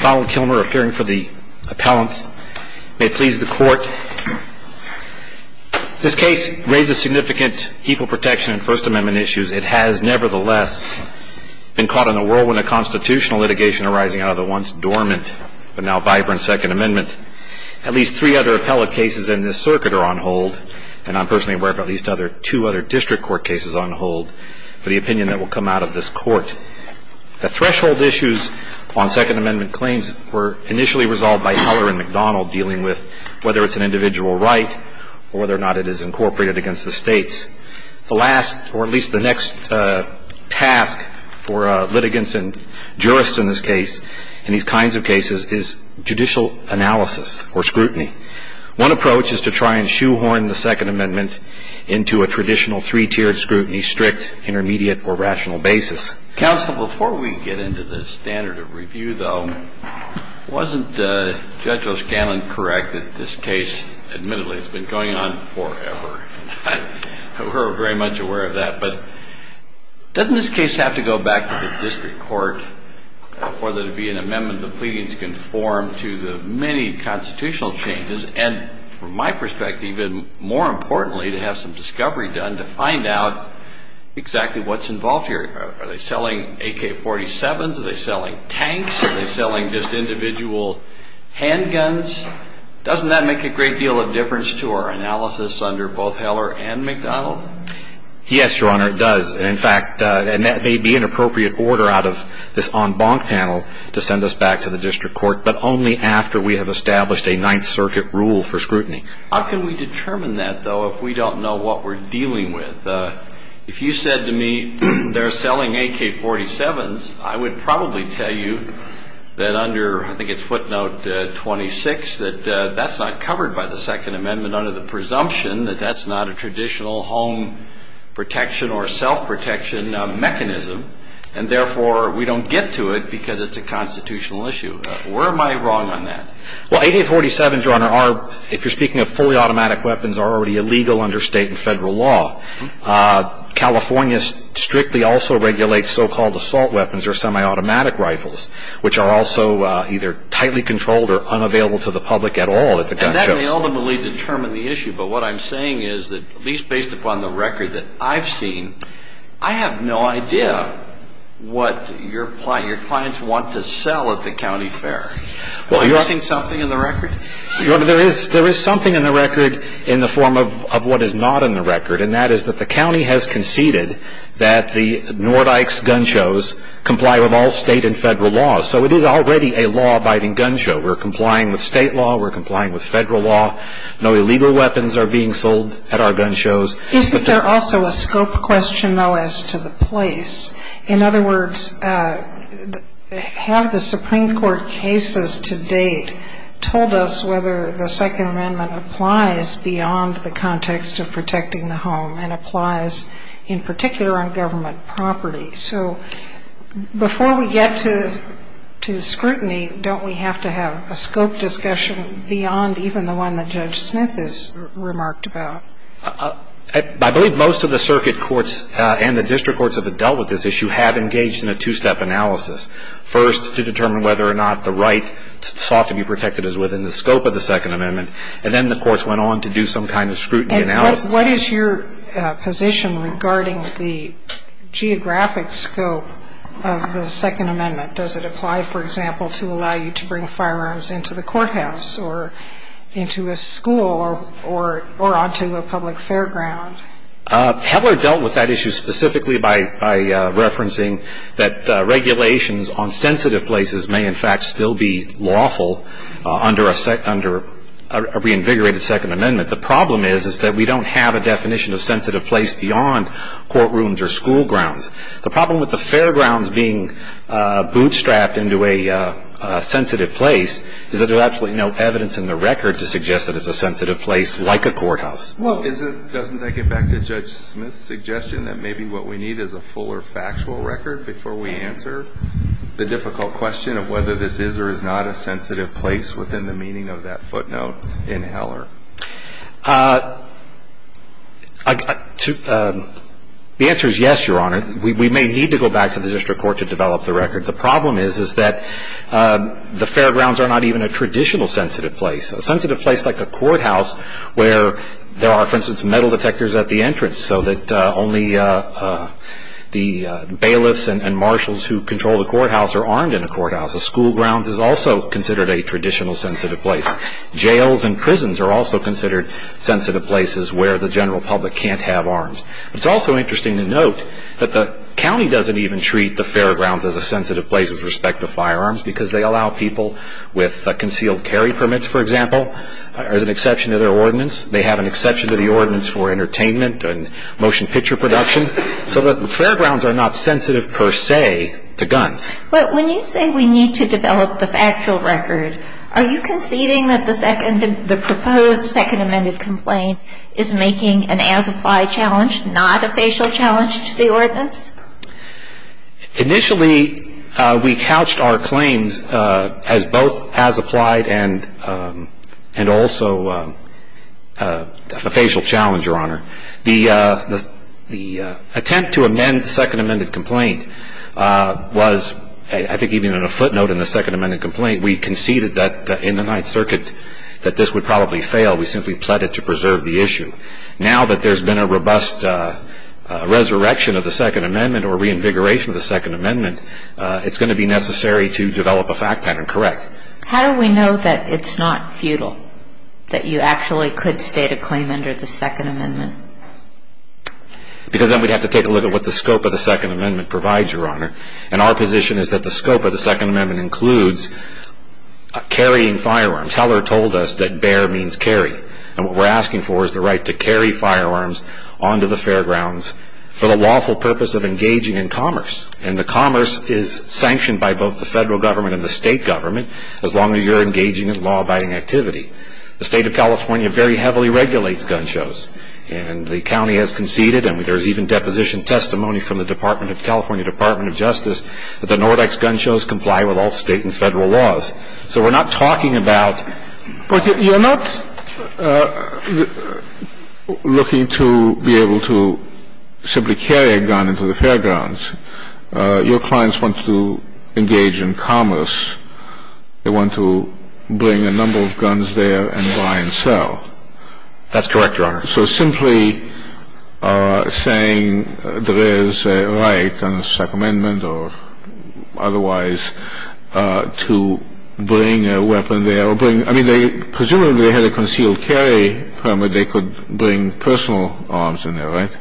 Donald Kilmer, appearing for the appellants. May it please the court. This case raises significant equal protection and First Amendment issues. It has, nevertheless, been caught in a whirlwind of constitutional litigation arising out of the once dormant but now vibrant Second Amendment. At least three other appellate cases in this circuit are on hold, and I'm personally aware of at least two other district court cases on hold for the opinion that will come out of this court. The threshold issues on Second Amendment claims were initially resolved by Heller and McDonald dealing with whether it's an individual right or whether or not it is incorporated against the states. The last, or at least the next, task for litigants and jurists in this case, in these kinds of cases, is judicial analysis or scrutiny. One approach is to try and shoehorn the Second Amendment into a traditional three-tiered scrutiny, strict, intermediate, or rational basis. Counsel, before we get into the standard of review, though, wasn't Judge O'Scanlan correct that this case, admittedly, has been going on forever? We're very much aware of that. But doesn't this case have to go back to the district court for there to be an amendment the pleadings conform to the many constitutional changes, and from my perspective, even more importantly, to have some discovery done to find out exactly what's involved here? Are they selling AK-47s? Are they selling tanks? Are they selling just individual handguns? Doesn't that make a great deal of difference to our analysis under both Heller and McDonald? Yes, Your Honor, it does. And in fact, and that may be an appropriate order out of this to send us back to the district court, but only after we have established a Ninth Circuit rule for scrutiny. How can we determine that, though, if we don't know what we're dealing with? If you said to me, they're selling AK-47s, I would probably tell you that under, I think it's footnote 26, that that's not covered by the Second Amendment under the presumption that that's not a traditional home protection or self-protection mechanism, and therefore, we don't get to it because it's a constitutional issue. Where am I wrong on that? Well, AK-47s, Your Honor, are, if you're speaking of fully automatic weapons, are already illegal under state and federal law. California strictly also regulates so-called assault weapons or semi-automatic rifles, which are also either tightly controlled or unavailable to the public at all at the gun shows. And that may ultimately determine the issue, but what I'm saying is that, at least based on the record that I've seen, I have no idea what your clients want to sell at the county fair. Are you missing something in the record? Your Honor, there is something in the record in the form of what is not in the record, and that is that the county has conceded that the Nordyke's gun shows comply with all state and federal laws. So it is already a law-abiding gun show. We're complying with state law. We're complying with federal law. No illegal weapons are being sold at our gun shows. Isn't there also a scope question, though, as to the place? In other words, have the Supreme Court cases to date told us whether the Second Amendment applies beyond the context of protecting the home and applies in particular on government property? So before we get to scrutiny, don't we have to have a scope discussion beyond even the one that Judge Smith has remarked about? I believe most of the circuit courts and the district courts that have dealt with this issue have engaged in a two-step analysis, first to determine whether or not the right sought to be protected is within the scope of the Second Amendment, and then the courts went on to do some kind of scrutiny analysis. What is your position regarding the geographic scope of the Second Amendment? Does it apply, for example, to allow you to bring firearms into the courthouse or into a school or onto a public fairground? Peddler dealt with that issue specifically by referencing that regulations on sensitive places may in fact still be lawful under a reinvigorated Second Amendment. The problem is that we don't have a definition of sensitive place beyond courtrooms or school grounds. The problem with the fairgrounds being bootstrapped into a sensitive place is that there's absolutely no evidence in the record to suggest that it's a sensitive place like a courthouse. Well, doesn't that get back to Judge Smith's suggestion that maybe what we need is a fuller factual record before we answer the difficult question of whether this is or is not a sensitive place within the meaning of that footnote in Heller? The answer is yes, Your Honor. We may need to go back to the district court to develop the record. The problem is that the fairgrounds are not even a traditional sensitive place. A sensitive place like a courthouse where there are, for instance, metal detectors at the entrance so that only the bailiffs and marshals who control the courthouse are armed in a courthouse. A school ground is also considered a traditional sensitive place. Jails and prisons are also considered sensitive places where the general public can't have arms. It's also interesting to note that the county doesn't even treat the fairgrounds as a sensitive place with respect to firearms because they allow people with concealed carry permits, for example, as an exception to their ordinance. They have an exception to the ordinance for entertainment and motion picture production. So the fairgrounds are not sensitive per se to guns. But when you say we need to develop the factual record, are you conceding that the proposed second amended complaint is making an as-applied challenge, not a facial challenge to the ordinance? Initially we couched our claims as both as-applied and also a facial challenge, Your Honor. The attempt to amend the second amended complaint was, I think even in a footnote in the second amended complaint, we conceded that in the Ninth Circuit that this would probably fail. We simply pled it to preserve the issue. Now that there's been a robust resurrection of the second amendment or reinvigoration of the second amendment, it's going to be necessary to develop a fact pattern, correct? How do we know that it's not futile, that you actually could state a claim under the second amendment? Because then we'd have to take a look at what the scope of the second amendment provides, Your Honor. And our position is that the scope of the second amendment includes carrying firearms. Heller told us that bear means carry. And what we're asking for is the right to carry firearms onto the fairgrounds for the lawful purpose of engaging in commerce. And the commerce is sanctioned by both the federal government and the state government as long as you're engaging in law-abiding activity. The State of California very heavily regulates gun shows. And the county has conceded, and there's even deposition testimony from the California Department of Justice, that the Nordic's gun shows comply with all state and federal laws. So we're not talking about But you're not looking to be able to simply carry a gun into the fairgrounds. Your clients want to engage in commerce. They want to bring a number of guns there and buy and sell. That's correct, Your Honor. So simply saying there is a right under the second amendment or otherwise to bring a weapon there or bring I mean, they presumably had a concealed carry permit. They could bring personal arms in there, right?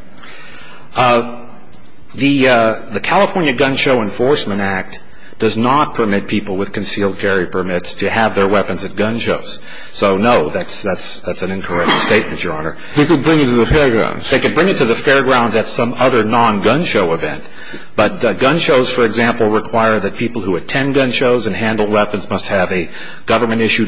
The California Gun Show Enforcement Act does not permit people with concealed carry permits to have their weapons at gun shows. So no, that's an incorrect statement, Your Honor. They could bring it to the fairgrounds. They could bring it to the fairgrounds at some other non-gun show event. But gun shows, for example, require that people who attend gun shows and handle weapons must have a government so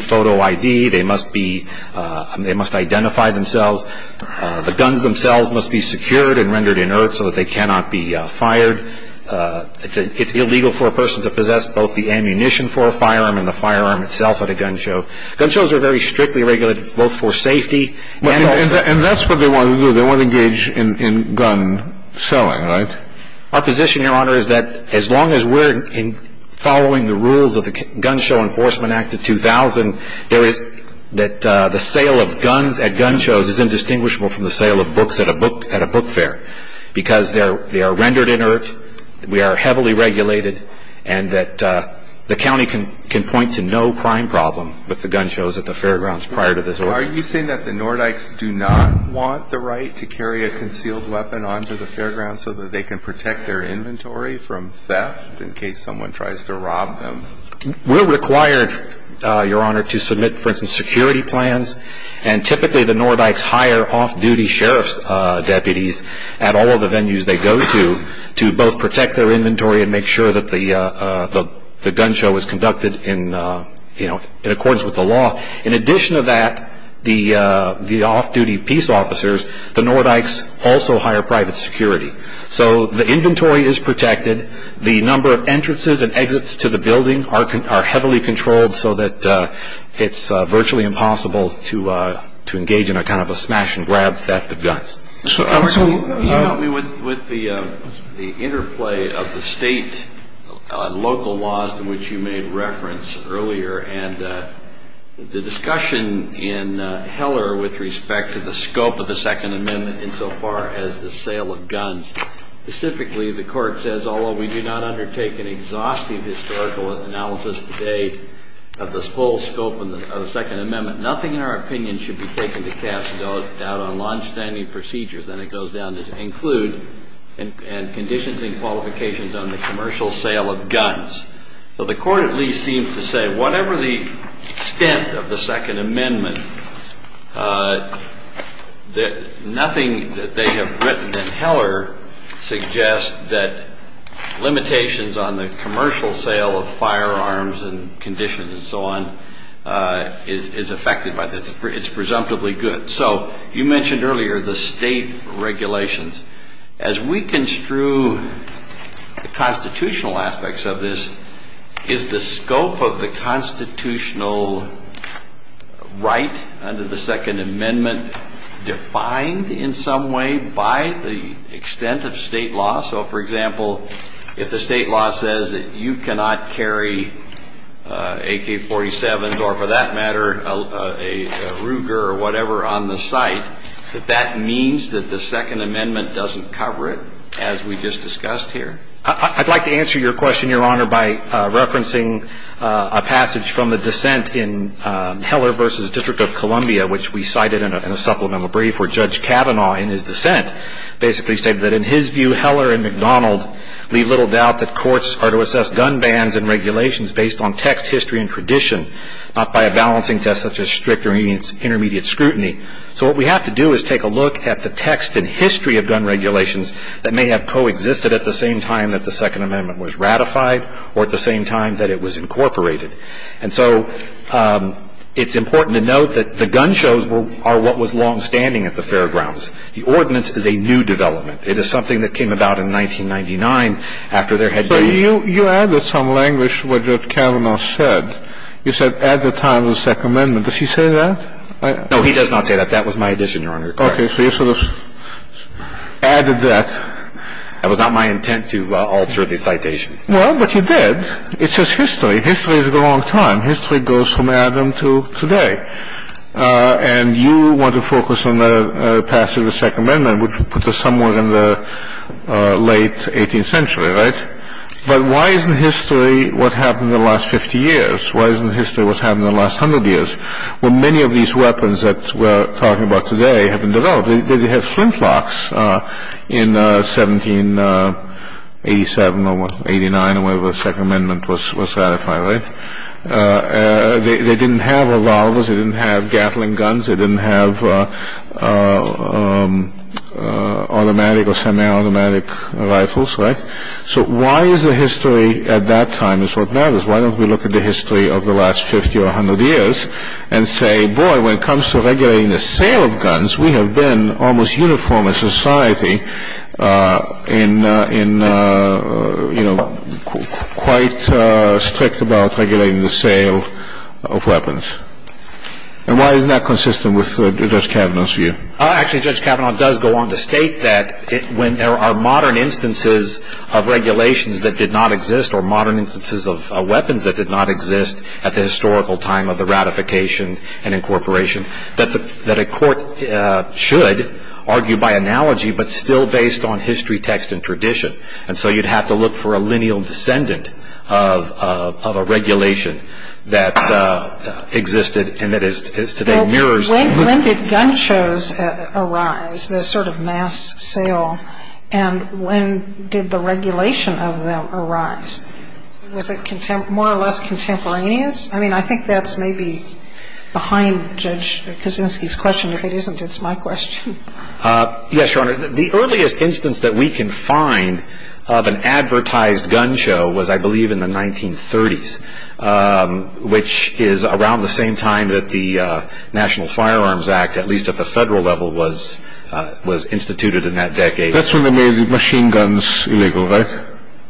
that they cannot be fired. It's illegal for a person to possess both the ammunition for a firearm and the firearm itself at a gun show. Gun shows are very strictly regulated both for safety and also And that's what they want to do. They want to engage in gun selling, right? Our position, Your Honor, is that as long as we're following the rules of the Gun Show Enforcement Act of 2000, there is that the sale of guns at gun shows is indistinguishable from the sale of books at a book fair because they are rendered inert, we are heavily regulated, and that the county can point to no crime problem with the gun shows at the fairgrounds prior to this order. Are you saying that the Nordikes do not want the right to carry a concealed weapon onto the fairgrounds so that they can protect their inventory from theft in case someone tries to rob them? We're required, Your Honor, to submit, for instance, security plans. And typically the duty sheriff's deputies at all of the venues they go to, to both protect their inventory and make sure that the gun show is conducted in accordance with the law. In addition to that, the off-duty peace officers, the Nordikes also hire private security. So the inventory is protected. The number of entrances and exits to the building are heavily controlled so that it's virtually impossible to engage in a kind of a smash and grab theft of guns. So, Your Honor, can you help me with the interplay of the state and local laws to which you made reference earlier and the discussion in Heller with respect to the scope of the Second Amendment insofar as the sale of guns. Specifically, the court says, although we do not undertake an exhaustive historical analysis today of the full scope of the Second Amendment, nothing in our opinion should be taken to cast doubt on longstanding procedures, and it goes down to include conditions and qualifications on the commercial sale of guns. So the court at least seems to say whatever the extent of the Second Amendment, nothing that they have written in Heller suggests that limitations on the commercial sale of firearms and conditions and so on is affected by this. It's presumptively good. So you mentioned earlier the state regulations. As we construe the constitutional aspects of this, is the scope of the constitutional right under the Second Amendment defined in some way by the extent of state law? So, for example, if the state law says that you cannot carry AK-47s or, for that matter, a Ruger or whatever on the site, that that means that the Second Amendment doesn't cover it, as we just discussed here? I'd like to answer your question, Your Honor, by referencing a passage from the dissent in Heller v. District of Columbia, which we cited in a supplemental brief, where Judge Kavanaugh in his dissent basically stated that in his view, Heller and McDonald leave little doubt that courts are to assess gun bans and regulations based on text, history and tradition, not by a balancing test such as strict or intermediate scrutiny. So what we have to do is take a look at the text and history of gun regulations that may have coexisted at the same time that the Second Amendment was ratified or at the same time that it was incorporated. And so it's important to note that the gun shows are what was longstanding at the fairgrounds. The ordinance is a new development. It is something that came about in 1999 after there had been the ---- But you added some language to what Judge Kavanaugh said. You said, at the time of the Second Amendment. Does he say that? No, he does not say that. That was my addition, Your Honor. Okay. So you sort of added that. That was not my intent to alter the citation. Well, but you did. It says history. History is a long time. History goes from Adam to today. And you want to focus on the passage of the Second Amendment, which puts us somewhere in the late 18th century, right? But why isn't history what happened in the last 50 years? Why isn't history what's happened in the last 100 years? Well, many of these weapons that we're talking about today have been developed. They didn't have flintlocks in 1787 or 1889 or whenever the Second Amendment was ratified, right? They didn't have revolvers. They didn't have gatling guns. They didn't have automatic or semi-automatic rifles. Right. So why is the history at that time is what matters. Why don't we look at the history of the last 50 or 100 years and say, boy, when it comes to regulating the sale of guns, we have been almost uniform in society in, you know, quite strict about regulating the sale of weapons. And why isn't that consistent with Judge Kavanaugh's view? Actually, Judge Kavanaugh does go on to state that when there are modern instances of regulations that did not exist or modern instances of weapons that did not exist at the historical time of the ratification and incorporation, that a court should argue by analogy but still based on history, text, and tradition. And so you'd have to look for a lineal descendant of a regulation that existed and that is today mirrors. When did gun shows arise, the sort of mass sale, and when did the regulation of them arise? Was it more or less contemporaneous? I mean, I think that's maybe behind Judge Kuczynski's question. If it isn't, it's my question. Yes, Your Honor. The earliest instance that we can find of an advertised gun show was, I believe, in the 1930s, which is around the same time that the National Firearms Act, at least at the federal level, was instituted in that decade. That's when they made machine guns illegal, right?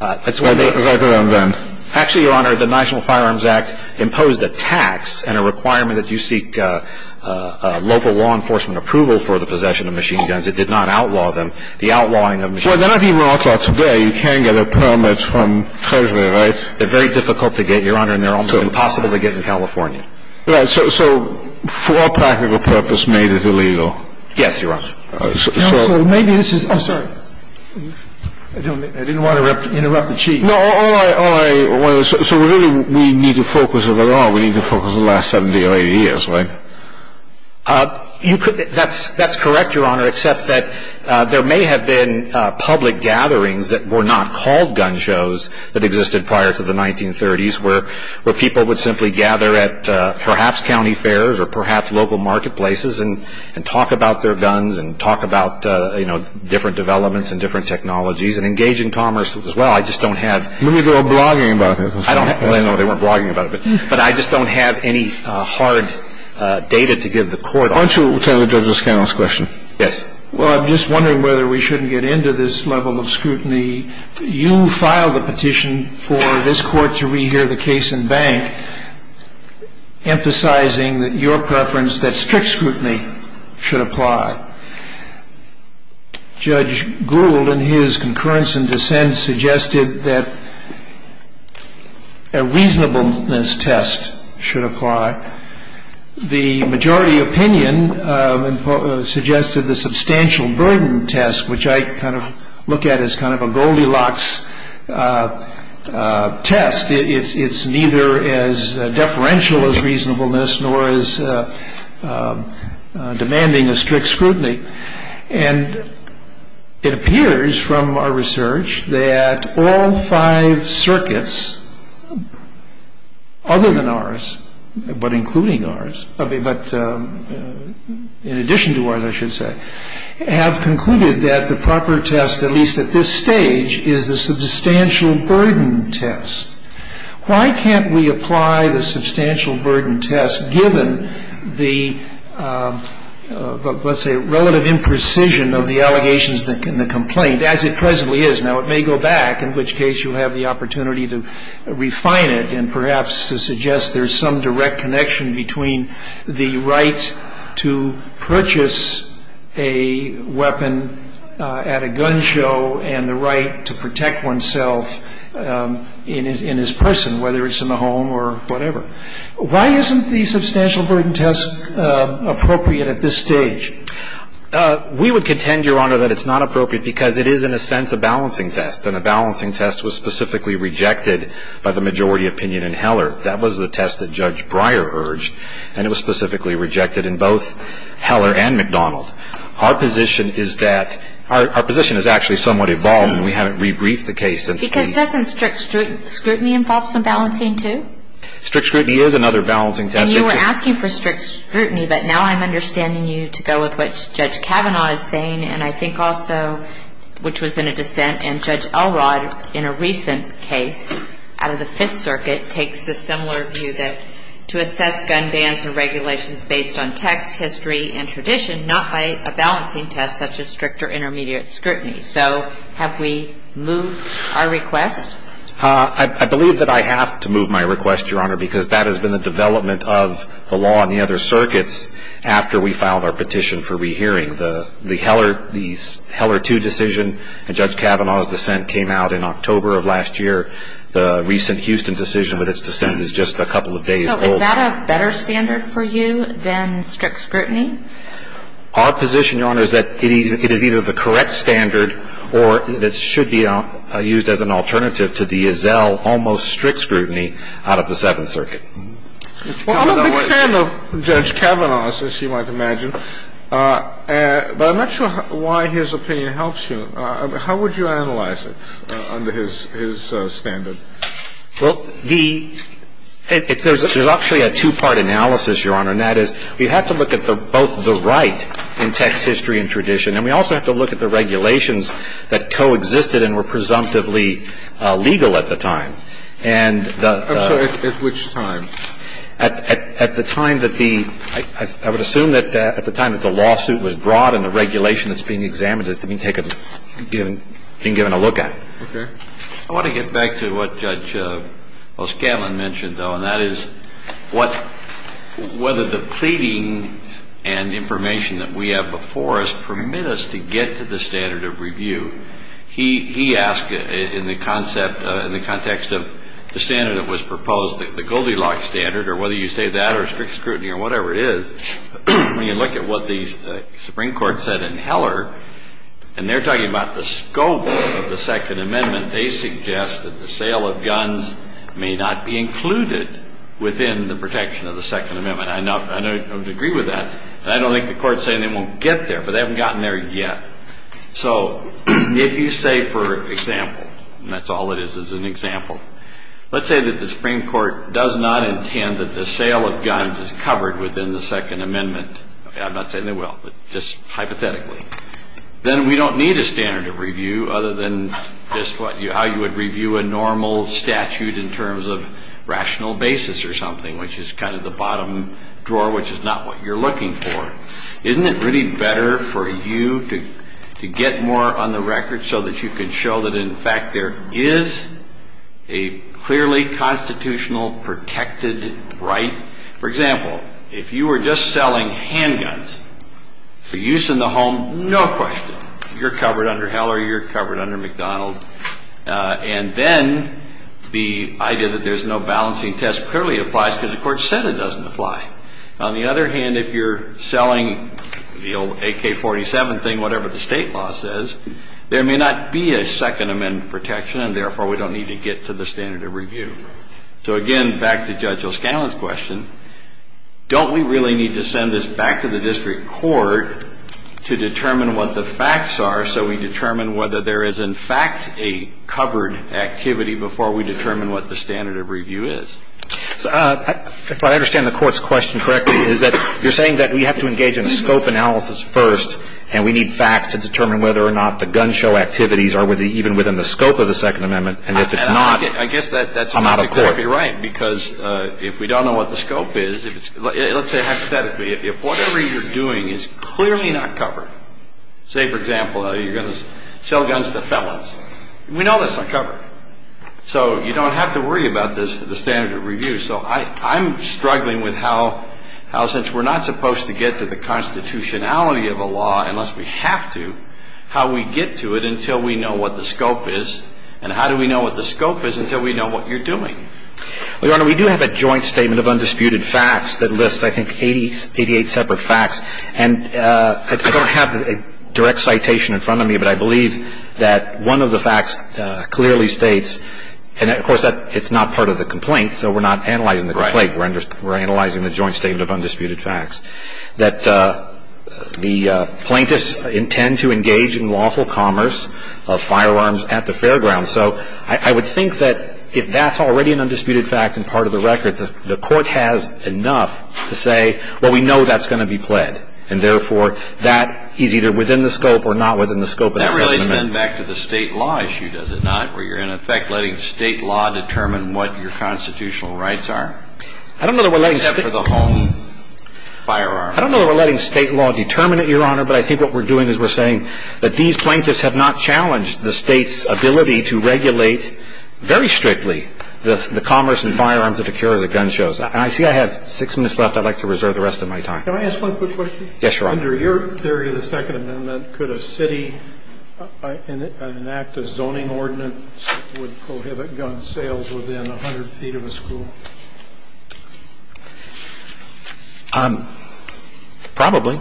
Right around then. Actually, Your Honor, the National Firearms Act imposed a tax and a requirement that you seek local law enforcement approval for the possession of machine guns. It did not outlaw them. The outlawing of machine guns... Well, they're not even outlawed today. You can get a permit from Treasury, right? They're very difficult to get, Your Honor, and they're almost impossible to get in California. Right, so for a practical purpose, made it illegal. Yes, Your Honor. Counsel, maybe this is... Oh, sorry. I didn't want to interrupt the Chief. No, all right, all right. So really, we need to focus on the law. We need to focus on the last 70 or 80 years, right? That's correct, Your Honor, except that there may have been public gatherings that were not called gun shows that existed prior to the 1930s, where people would simply gather at perhaps county fairs or perhaps local marketplaces and talk about their guns and talk about different developments and different technologies and engage in commerce as well. I just don't have... Maybe they were blogging about it. I don't know. They weren't blogging about it, but I just don't have any hard data to give the Court on. Why don't you turn to Judge O'Scannell's question? Yes. Well, I'm just wondering whether we shouldn't get into this level of scrutiny. You filed a petition for this Court to re-hear the case in bank, emphasizing your preference that strict scrutiny should apply. Judge Gould, in his concurrence and dissent, suggested that a reasonableness test should apply. The majority opinion suggested the substantial burden test, which I kind of look at as kind of a Goldilocks test. It's neither as deferential as reasonableness nor as demanding as strict scrutiny. And it appears from our research that all five circuits, other than ours but including ours, but in addition to ours, I should say, have concluded that the proper test, at least at this stage, is the substantial burden test. Why can't we apply the substantial burden test given the, let's say, relative imprecision of the allegations in the complaint as it presently is? Now, it may go back, in which case you'll have the opportunity to refine it and perhaps to suggest there's some direct connection between the right to purchase a weapon at a gun show and the right to protect oneself in his person, whether it's in the home or whatever. Why isn't the substantial burden test appropriate at this stage? We would contend, Your Honor, that it's not appropriate because it is, in a sense, a balancing test. And a balancing test was specifically rejected by the majority opinion in Heller. That was the test that Judge Breyer urged, and it was specifically rejected in both Heller and McDonald. Our position is that – our position has actually somewhat evolved, and we haven't re-briefed the case. Because doesn't strict scrutiny involve some balancing, too? Strict scrutiny is another balancing test. And you were asking for strict scrutiny, but now I'm understanding you to go with what Judge Kavanaugh is saying and I think also, which was in a dissent, and Judge Elrod, in a recent case out of the Fifth Circuit, takes the similar view that to assess gun bans and regulations based on text, history, and tradition, not by a balancing test such as strict or intermediate scrutiny. So have we moved our request? I believe that I have to move my request, Your Honor, because that has been the development of the law in the other circuits after we filed our petition for rehearing. The Heller – the Heller 2 decision and Judge Kavanaugh's dissent came out in October of last year. The recent Houston decision with its dissent is just a couple of days old. So is that a better standard for you than strict scrutiny? Our position, Your Honor, is that it is either the correct standard or that it should be used as an alternative to the Ezel almost strict scrutiny out of the Seventh Circuit. Well, I'm a big fan of Judge Kavanaugh, as you might imagine. But I'm not sure why his opinion helps you. How would you analyze it under his standard? Well, the – there's actually a two-part analysis, Your Honor, and that is we have to look at both the right in text, history, and tradition, and we also have to look at the regulations that coexisted and were presumptively legal at the time. And the – I'm sorry. At which time? At the time that the – I would assume that at the time that the lawsuit was brought and the regulation that's being examined is being taken – being given a look at. Okay. I want to get back to what Judge O'Scanlan mentioned, though, and that is what – whether the pleading and information that we have before us permit us to get to the standard of review. He asked in the concept – in the context of the standard that was proposed, the Goldilocks standard, or whether you say that or strict scrutiny or whatever it is, when you look at what the Supreme Court said in Heller, and they're talking about the scope of the Second Amendment, they suggest that the sale of guns may not be included within the protection of the Second Amendment. I know – I would agree with that. I don't think the Court's saying they won't get there, but they haven't gotten there yet. So if you say, for example – and that's all it is, is an example – let's say that the Supreme Court does not intend that the sale of guns is covered within the Second Amendment – I'm not saying they will, but just hypothetically – then we don't need a standard of review other than just how you would review a normal statute in terms of rational basis or something, which is kind of the bottom drawer, which is not what you're looking for. Isn't it really better for you to get more on the record so that you can show that, in fact, there is a clearly constitutional protected right? For example, if you were just selling handguns for use in the home, no question. You're covered under Heller. You're covered under McDonald. And then the idea that there's no balancing test clearly applies because the Court said it doesn't apply. On the other hand, if you're selling the old AK-47 thing, whatever the state law says, there may not be a Second Amendment protection, and therefore, we don't need to get to the standard of review. So again, back to Judge O'Scallion's question, don't we really need to send this back to the district court to determine what the facts are so we determine whether there is, in fact, a covered activity before we determine what the standard of review is? If I understand the Court's question correctly, is that you're saying that we have to engage in a scope analysis first, and we need facts to determine whether or not the gun show activities are even within the scope of the Second Amendment, and if it's not, I'm out of court. I guess that's exactly right, because if we don't know what the scope is, let's say hypothetically, if whatever you're doing is clearly not covered, say, for example, you're going to sell guns to felons, we know that's not covered. So you don't have to worry about the standard of review. So I'm struggling with how, since we're not supposed to get to the constitutionality of a law unless we have to, how we get to it until we know what the scope is, and how do we know what the scope is until we know what you're doing? Your Honor, we do have a joint statement of undisputed facts that lists, I think, 88 separate facts, and I don't have a direct citation in front of me, but I believe that one of the facts clearly states, and of course it's not part of the complaint, so we're not analyzing the complaint, we're analyzing the joint statement of undisputed facts, that the plaintiffs intend to engage in lawful commerce of firearms at the fairgrounds. So I would think that if that's already an undisputed fact and part of the record, the court has enough to say, well, we know that's going to be pled, and therefore that is either within the scope or not within the scope of the settlement. That relates then back to the State law issue, does it not, where you're in effect letting State law determine what your constitutional rights are? I don't know that we're letting State law determine it, Your Honor, but I think what we're doing is we're saying that these plaintiffs have not challenged the State's ability to regulate very strictly the commerce and firearms that occurs at gun shows. And I see I have six minutes left. I'd like to reserve the rest of my time. Can I ask one quick question? Yes, Your Honor. Under your theory of the Second Amendment, could a city enact a zoning ordinance that would prohibit gun sales within 100 feet of a school? Probably.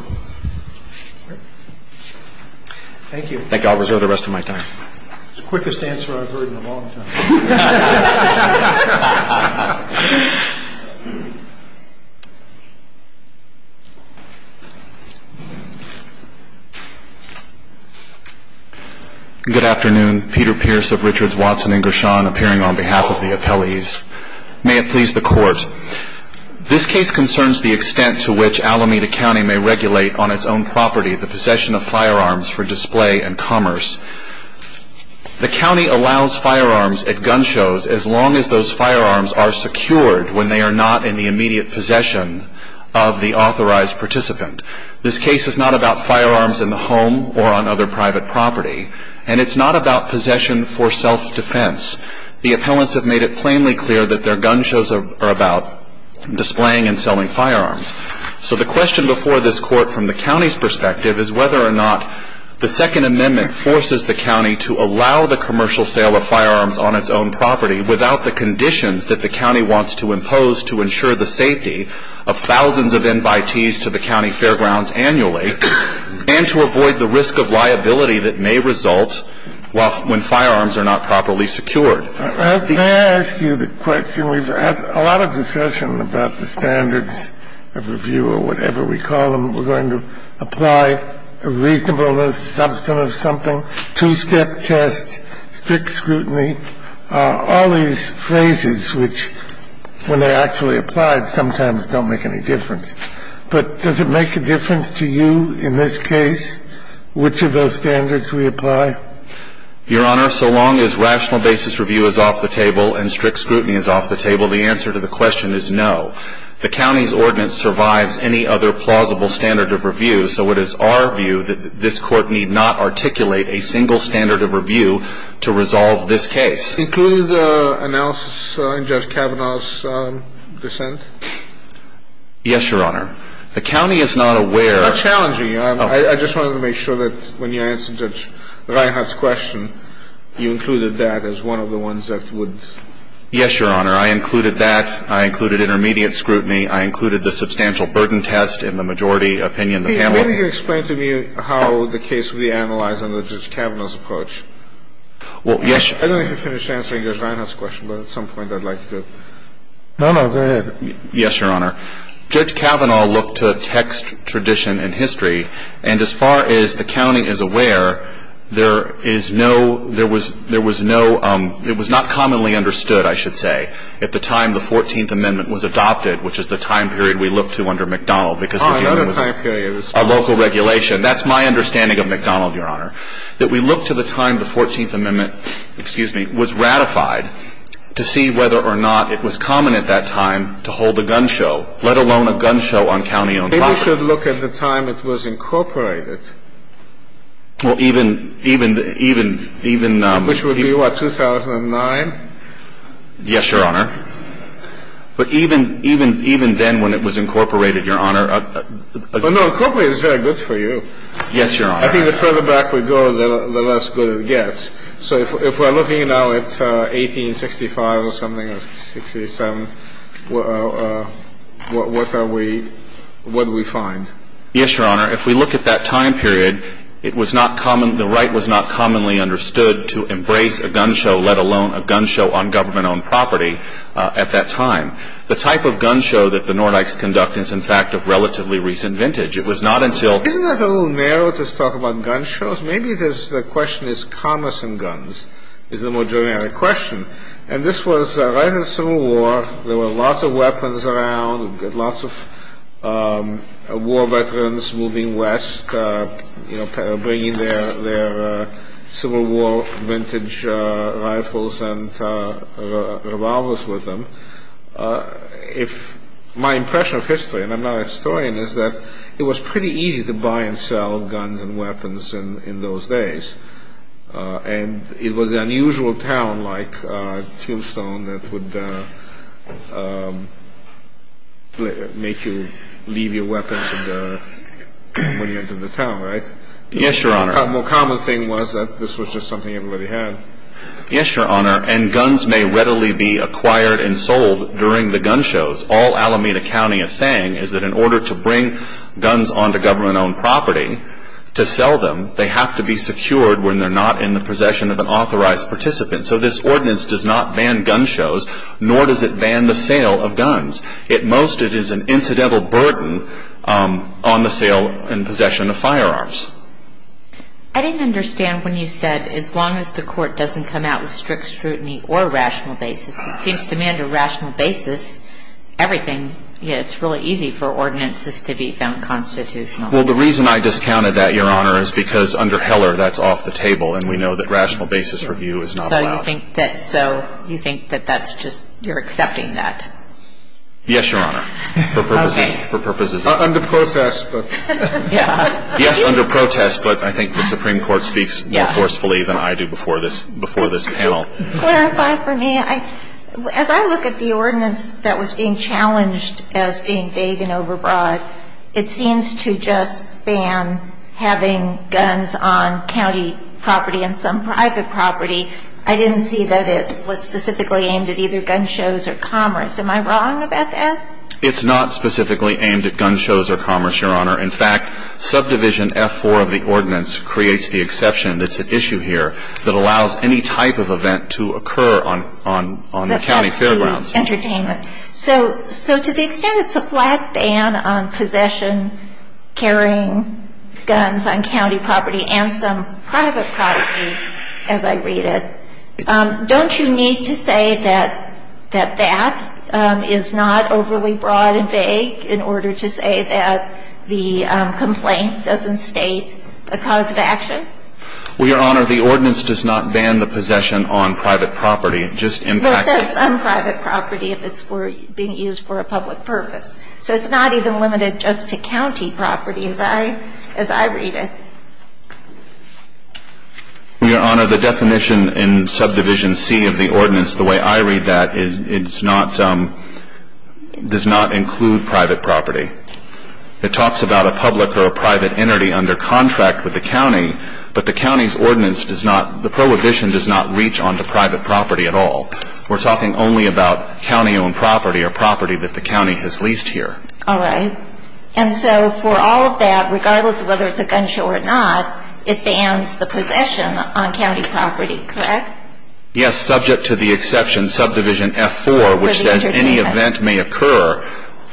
Thank you. I think I'll reserve the rest of my time. It's the quickest answer I've heard in a long time. Good afternoon. Peter Pierce of Richards, Watson & Gershon appearing on behalf of the appellees. May it please the Court. This case concerns the extent to which Alameda County may regulate on its own property the possession of firearms for display and commerce. The county allows firearms at gun shows as long as those firearms are secured when they are not in the immediate possession of the authorized participant. This case is not about firearms in the home or on other private property, and it's not about possession for self-defense. The appellants have made it plainly clear that their gun shows are about displaying and selling firearms. So the question before this Court from the county's perspective is whether or not the Second Amendment forces the county to allow the commercial sale of firearms on its own property without the conditions that the county wants to impose to ensure the safety of thousands of invitees to the county fairgrounds annually and to avoid the risk of liability that may result when firearms are not properly secured. Kennedy. Can I ask you the question? We've had a lot of discussion about the standards of review or whatever we call them. We're going to apply reasonableness, substance of something, two-step test, strict scrutiny, all these phrases which, when they're actually applied, sometimes don't make any difference. But does it make a difference to you in this case which of those standards we apply? Your Honor, so long as rational basis review is off the table and strict scrutiny is off the table, the answer to the question is no. The county's ordinance survives any other plausible standard of review, so it is our view that this Court need not articulate a single standard of review to resolve this case. Including the analysis in Judge Kavanaugh's dissent? Yes, Your Honor. The county is not aware of the standard of review. It's not challenging. I just wanted to make sure that when you answered Judge Reinhart's question, you included that as one of the ones that would. Yes, Your Honor. I included that. I included intermediate scrutiny. I included the substantial burden test in the majority opinion of the panel. Can you explain to me how the case would be analyzed under Judge Kavanaugh's approach? Well, yes. I don't think I finished answering Judge Reinhart's question, but at some point I'd like to. No, no. Go ahead. Yes, Your Honor. Judge Kavanaugh looked to text, tradition, and history. And as far as the county is aware, there is no ‑‑ there was no ‑‑ it was not commonly understood, I should say, at the time the 14th Amendment was adopted, which is the time period we look to under McDonald. Oh, another time period. A local regulation. That's my understanding of McDonald, Your Honor. That we look to the time the 14th Amendment, excuse me, was ratified to see whether or not it was common at that time to hold a gun show, let alone a gun show on county‑owned property. Maybe we should look at the time it was incorporated. Well, even, even, even, even ‑‑ Which would be, what, 2009? Yes, Your Honor. But even, even, even then when it was incorporated, Your Honor ‑‑ Well, no, incorporated is very good for you. Yes, Your Honor. I think the further back we go, the less good it gets. So if we're looking now at 1865 or something, or 1867, what are we, what do we find? Yes, Your Honor. If we look at that time period, it was not common, the right was not commonly understood to embrace a gun show, let alone a gun show on government‑owned property at that time. The type of gun show that the Nordikes conduct is, in fact, of relatively recent vintage. It was not until ‑‑ Isn't that a little narrow to talk about gun shows? Maybe the question is commerce in guns is the more generic question. And this was right in the Civil War. There were lots of weapons around, lots of war veterans moving west, you know, bringing their Civil War vintage rifles and revolvers with them. If my impression of history, and I'm not a historian, is that it was pretty easy to buy and sell guns and weapons in those days. And it was an unusual town like Tombstone that would make you leave your weapons and went into the town, right? Yes, Your Honor. The more common thing was that this was just something everybody had. Yes, Your Honor. And guns may readily be acquired and sold during the gun shows. All Alameda County is saying is that in order to bring guns onto government‑owned property to sell them, they have to be secured when they're not in the possession of an authorized participant. So this ordinance does not ban gun shows, nor does it ban the sale of guns. At most, it is an incidental burden on the sale and possession of firearms. I didn't understand when you said, as long as the court doesn't come out with strict scrutiny or rational basis, it seems to me under rational basis, everything, it's really easy for ordinances to be found constitutional. Well, the reason I discounted that, Your Honor, is because under Heller, that's off the table, and we know that rational basis review is not allowed. So you think that that's just, you're accepting that? Yes, Your Honor. Okay. For purposes of ‑‑ Under protest, but. Yeah. Yes, under protest, but I think the Supreme Court speaks more forcefully than I do before this panel. Clarify for me. As I look at the ordinance that was being challenged as being vague and overbroad, it seems to just ban having guns on county property and some private property. I didn't see that it was specifically aimed at either gun shows or commerce. Am I wrong about that? It's not specifically aimed at gun shows or commerce, Your Honor. In fact, subdivision F4 of the ordinance creates the exception that's at issue here that allows any type of event to occur on the county fairgrounds. That's the entertainment. So to the extent it's a flat ban on possession, carrying guns on county property, and some private property, as I read it, don't you need to say that that is not overly broad and vague in order to say that the complaint doesn't state a cause of action? Well, Your Honor, the ordinance does not ban the possession on private property. It just impacts it. Well, it says some private property if it's being used for a public purpose. So it's not even limited just to county property as I read it. Well, Your Honor, the definition in subdivision C of the ordinance, the way I read that, does not include private property. It talks about a public or a private entity under contract with the county, but the county's ordinance does not, the prohibition does not reach onto private property at all. We're talking only about county-owned property or property that the county has leased here. All right. And so for all of that, regardless of whether it's a gun show or not, it bans the possession on county property, correct? Yes, subject to the exception subdivision F4, which says any event may occur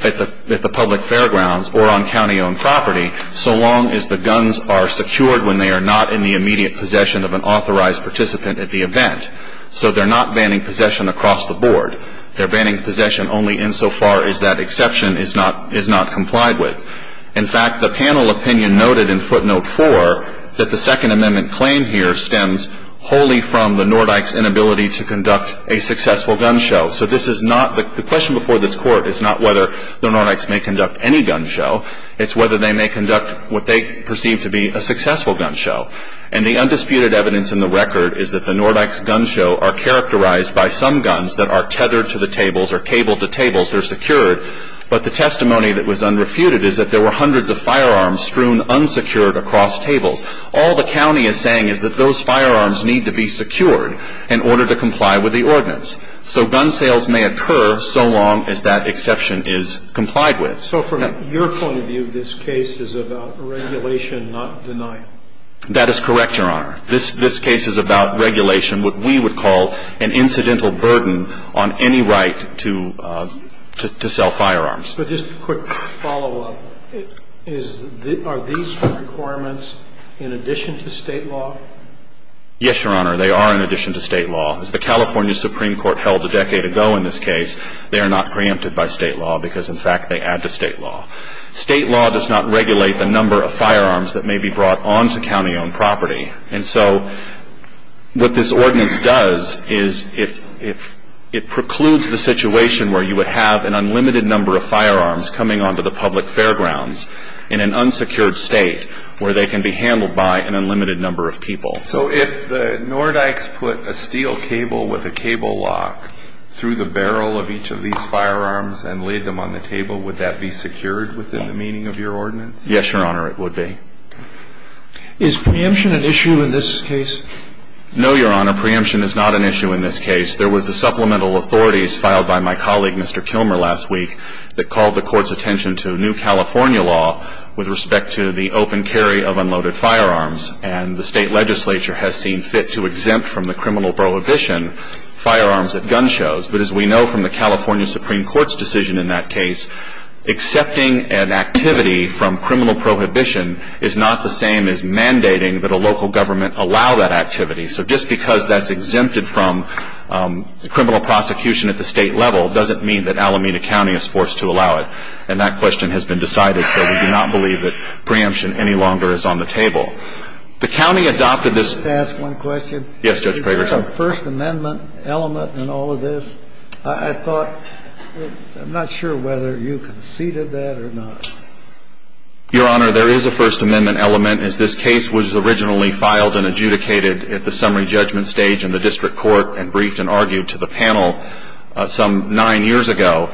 at the public fairgrounds or on county-owned property so long as the guns are secured when they are not in the immediate possession of an authorized participant at the event. So they're not banning possession across the board. They're banning possession only insofar as that exception is not complied with. In fact, the panel opinion noted in footnote 4 that the Second Amendment claim here stems wholly from the Nordyke's inability to conduct a successful gun show. So this is not, the question before this Court is not whether the Nordyke's may conduct any gun show. It's whether they may conduct what they perceive to be a successful gun show. And the undisputed evidence in the record is that the Nordyke's gun show are characterized by some guns that are tethered to the tables or cabled to tables. They're secured. But the testimony that was unrefuted is that there were hundreds of firearms strewn unsecured across tables. All the county is saying is that those firearms need to be secured in order to comply with the ordinance. So gun sales may occur so long as that exception is complied with. So from your point of view, this case is about regulation, not denial. That is correct, Your Honor. This case is about regulation, what we would call an incidental burden on any right to sell firearms. But just a quick follow-up. Are these requirements in addition to State law? Yes, Your Honor. They are in addition to State law. As the California Supreme Court held a decade ago in this case, they are not preempted by State law because, in fact, they add to State law. State law does not regulate the number of firearms that may be brought onto county-owned property. And so what this ordinance does is it precludes the situation where you would have an unlimited number of firearms coming onto the public fairgrounds in an unsecured state where they can be handled by an unlimited number of people. So if the Nordykes put a steel cable with a cable lock through the barrel of each of these firearms and laid them on the table, would that be secured within the meaning of your ordinance? Yes, Your Honor, it would be. Okay. Is preemption an issue in this case? No, Your Honor. Preemption is not an issue in this case. There was a supplemental authority filed by my colleague, Mr. Kilmer, last week that called the Court's attention to new California law with respect to the open carry of unloaded firearms. And the State legislature has seen fit to exempt from the criminal prohibition firearms at gun shows. But as we know from the California Supreme Court's decision in that case, accepting an activity from criminal prohibition is not the same as mandating that a local government allow that activity. So just because that's exempted from criminal prosecution at the State level doesn't mean that Alameda County is forced to allow it. And that question has been decided, so we do not believe that preemption any longer is on the table. The county adopted this. May I ask one question? Yes, Judge Prager. Is there a First Amendment element in all of this? I thought, I'm not sure whether you conceded that or not. Your Honor, there is a First Amendment element. As this case was originally filed and adjudicated at the summary judgment stage in the district court and briefed and argued to the panel some nine years ago,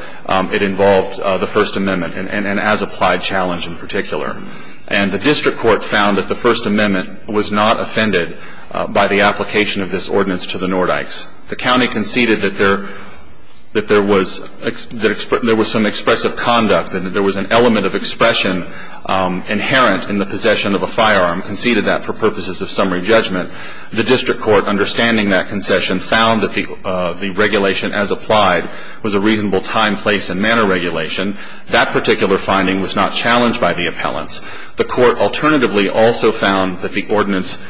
it involved the First Amendment and as applied challenge in particular. And the district court found that the First Amendment was not offended by the application of this ordinance to the Nordykes. The county conceded that there was some expressive conduct, that there was an element of expression inherent in the possession of a firearm, conceded that for purposes of summary judgment. The district court, understanding that concession, found that the regulation as applied was a reasonable time, place and manner regulation. That particular finding was not challenged by the appellants. The court alternatively also found that the ordinance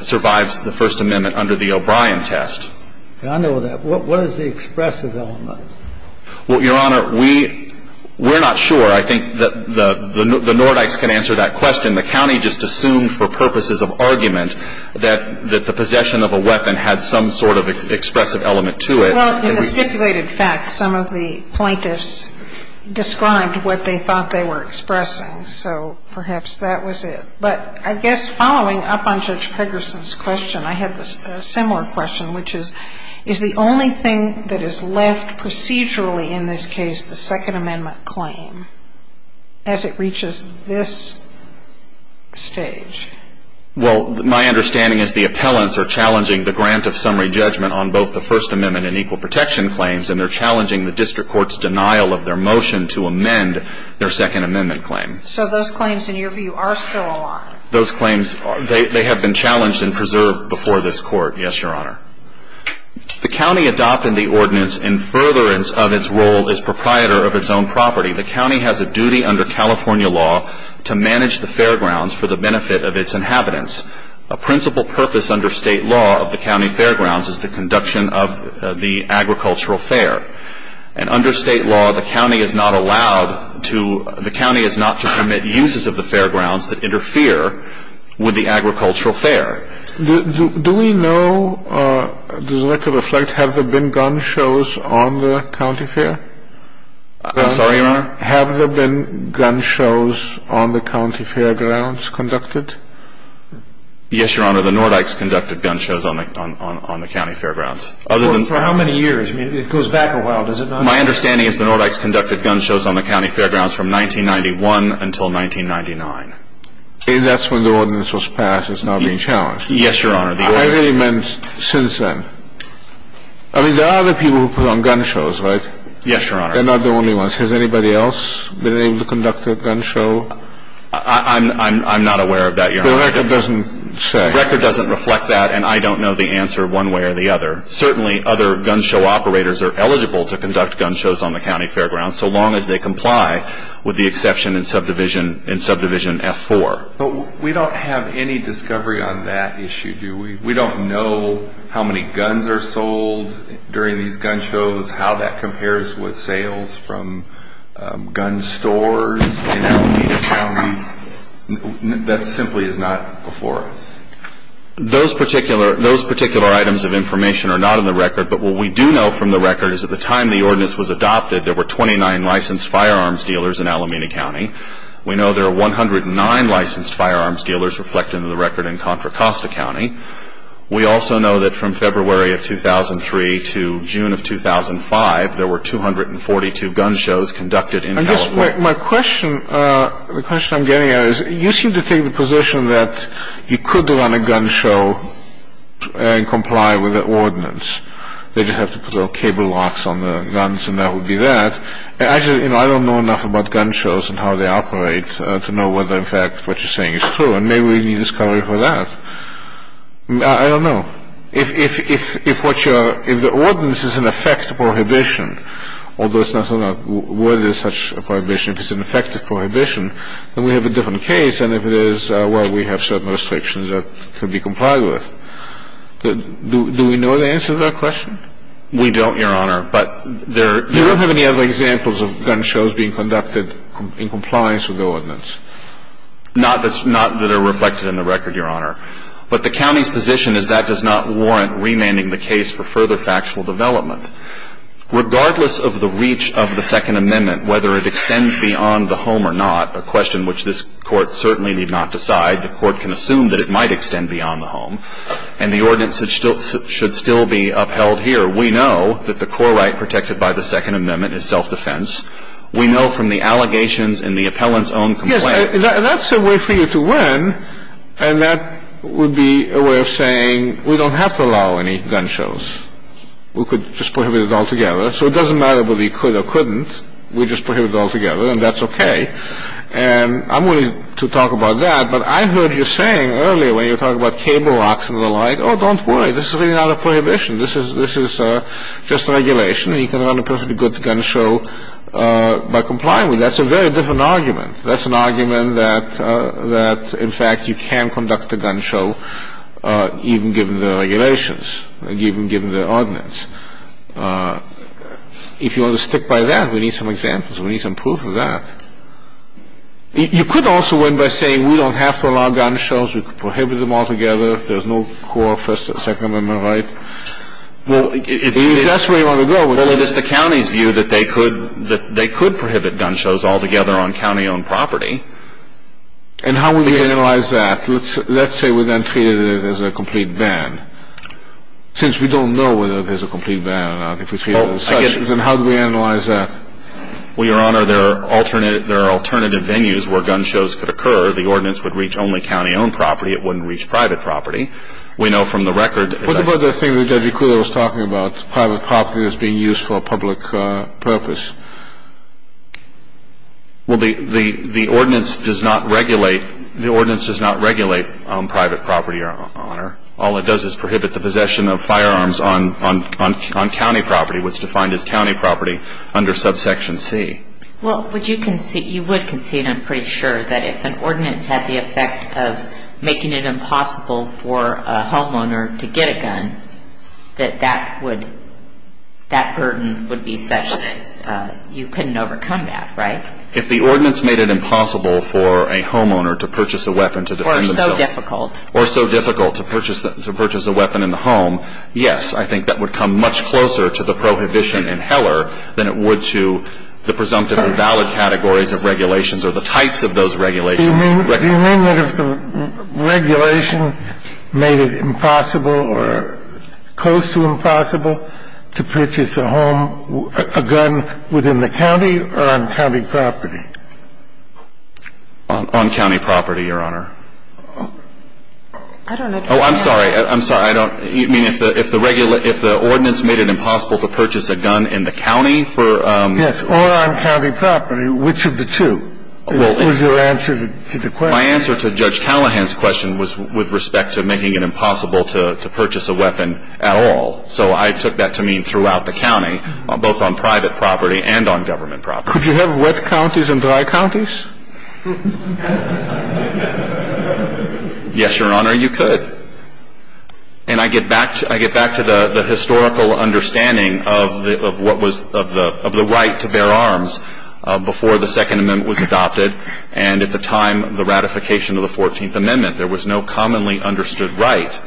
survives the First Amendment under the O'Brien test. I know that. What is the expressive element? Well, Your Honor, we're not sure. I think that the Nordykes can answer that question. The county just assumed for purposes of argument that the possession of a weapon had some sort of expressive element to it. Well, in the stipulated facts, some of the plaintiffs described what they thought they were expressing. So perhaps that was it. But I guess following up on Judge Pegersen's question, I had a similar question, which is, is the only thing that is left procedurally in this case the Second Amendment claim as it reaches this stage? Well, my understanding is the appellants are challenging the grant of summary judgment on both the First Amendment and equal protection claims, and they're challenging the district court's denial of their motion to amend their Second Amendment claim. So those claims, in your view, are still alive? Those claims, they have been challenged and preserved before this Court, yes, Your Honor. The county adopted the ordinance in furtherance of its role as proprietor of its own property. The county has a duty under California law to manage the fairgrounds for the benefit of its inhabitants. A principal purpose under state law of the county fairgrounds is the conduction of the agricultural fair. And under state law, the county is not allowed to ‑‑ the county is not to permit uses of the fairgrounds that interfere with the agricultural fair. Do we know, does the record reflect, have there been gun shows on the county fair? I'm sorry, Your Honor? Have there been gun shows on the county fairgrounds conducted? Yes, Your Honor, the Nordykes conducted gun shows on the county fairgrounds. For how many years? I mean, it goes back a while, does it not? My understanding is the Nordykes conducted gun shows on the county fairgrounds from 1991 until 1999. That's when the ordinance was passed. It's now being challenged. Yes, Your Honor. I really meant since then. I mean, there are other people who put on gun shows, right? Yes, Your Honor. They're not the only ones. Has anybody else been able to conduct a gun show? I'm not aware of that, Your Honor. The record doesn't say. The record doesn't reflect that, and I don't know the answer one way or the other. Certainly, other gun show operators are eligible to conduct gun shows on the county fairgrounds, so long as they comply with the exception in Subdivision F-4. But we don't have any discovery on that issue, do we? We don't know how many guns are sold during these gun shows, how that compares with sales from gun stores in Alameda County. That simply is not before us. Those particular items of information are not in the record, but what we do know from the record is at the time the ordinance was adopted, there were 29 licensed firearms dealers in Alameda County. We know there are 109 licensed firearms dealers reflected in the record in Contra Costa County. We also know that from February of 2003 to June of 2005, there were 242 gun shows conducted in California. I guess my question, the question I'm getting at is, you seem to take the position that you could run a gun show and comply with the ordinance. They just have to put little cable locks on the guns, and that would be that. Actually, you know, I don't know enough about gun shows and how they operate to know whether, in fact, what you're saying is true, and maybe we need discovery for that. I don't know. If the ordinance is, in effect, a prohibition, although it's not so much whether it's such a prohibition, if it's an effective prohibition, then we have a different case. And if it is, well, we have certain restrictions that could be complied with. Do we know the answer to that question? We don't, Your Honor. But there are – You don't have any other examples of gun shows being conducted in compliance with the ordinance? Not that's – not that are reflected in the record, Your Honor. But the county's position is that does not warrant remanding the case for further factual development. Regardless of the reach of the Second Amendment, whether it extends beyond the home or not, a question which this Court certainly need not decide. The Court can assume that it might extend beyond the home. And the ordinance should still be upheld here. We know that the core right protected by the Second Amendment is self-defense. We know from the allegations in the appellant's own complaint. Yes. That's a way for you to win, and that would be a way of saying we don't have to allow any gun shows. We could just prohibit it altogether. So it doesn't matter whether you could or couldn't. We just prohibit it altogether, and that's okay. And I'm willing to talk about that. But I heard you saying earlier when you were talking about cable locks and the like, oh, don't worry. This is really not a prohibition. This is just a regulation. You can run a perfectly good gun show by complying with it. That's a very different argument. That's an argument that, in fact, you can conduct a gun show even given the regulations, even given the ordinance. If you want to stick by that, we need some examples. We need some proof of that. You could also win by saying we don't have to allow gun shows. We could prohibit them altogether. There's no core First and Second Amendment right. Well, if that's where you want to go. Well, it is the county's view that they could prohibit gun shows altogether on county-owned property. And how would we analyze that? Let's say we then treated it as a complete ban. Since we don't know whether it is a complete ban or not, if we treat it as such, then how do we analyze that? Well, Your Honor, there are alternative venues where gun shows could occur. The ordinance would reach only county-owned property. It wouldn't reach private property. We know from the record. What about the thing that Judge Ikuda was talking about, private property that's being used for a public purpose? Well, the ordinance does not regulate private property, Your Honor. All it does is prohibit the possession of firearms on county property, what's defined as county property under subsection C. Well, you would concede, I'm pretty sure, that if an ordinance had the effect of making it impossible for a homeowner to get a gun, that that burden would be such that you couldn't overcome that, right? If the ordinance made it impossible for a homeowner to purchase a weapon to defend themselves. Or so difficult. Or so difficult to purchase a weapon in the home, yes, I think that would come much closer to the prohibition in Heller than it would to the presumptive and valid categories of regulations or the types of those regulations. Do you mean that if the regulation made it impossible or close to impossible to purchase a gun within the county or on county property? On county property, Your Honor. I don't know. Oh, I'm sorry. I'm sorry. I don't. I mean, if the ordinance made it impossible to purchase a gun in the county for. Yes, or on county property. Which of the two was your answer to the question? My answer to Judge Callahan's question was with respect to making it impossible to purchase a weapon at all. So I took that to mean throughout the county, both on private property and on government property. Could you have wet counties and dry counties? Yes, Your Honor, you could. And I get back to the historical understanding of what was the right to bear arms before the Second Amendment was adopted and at the time the ratification of the Fourteenth Amendment, there was no commonly understood right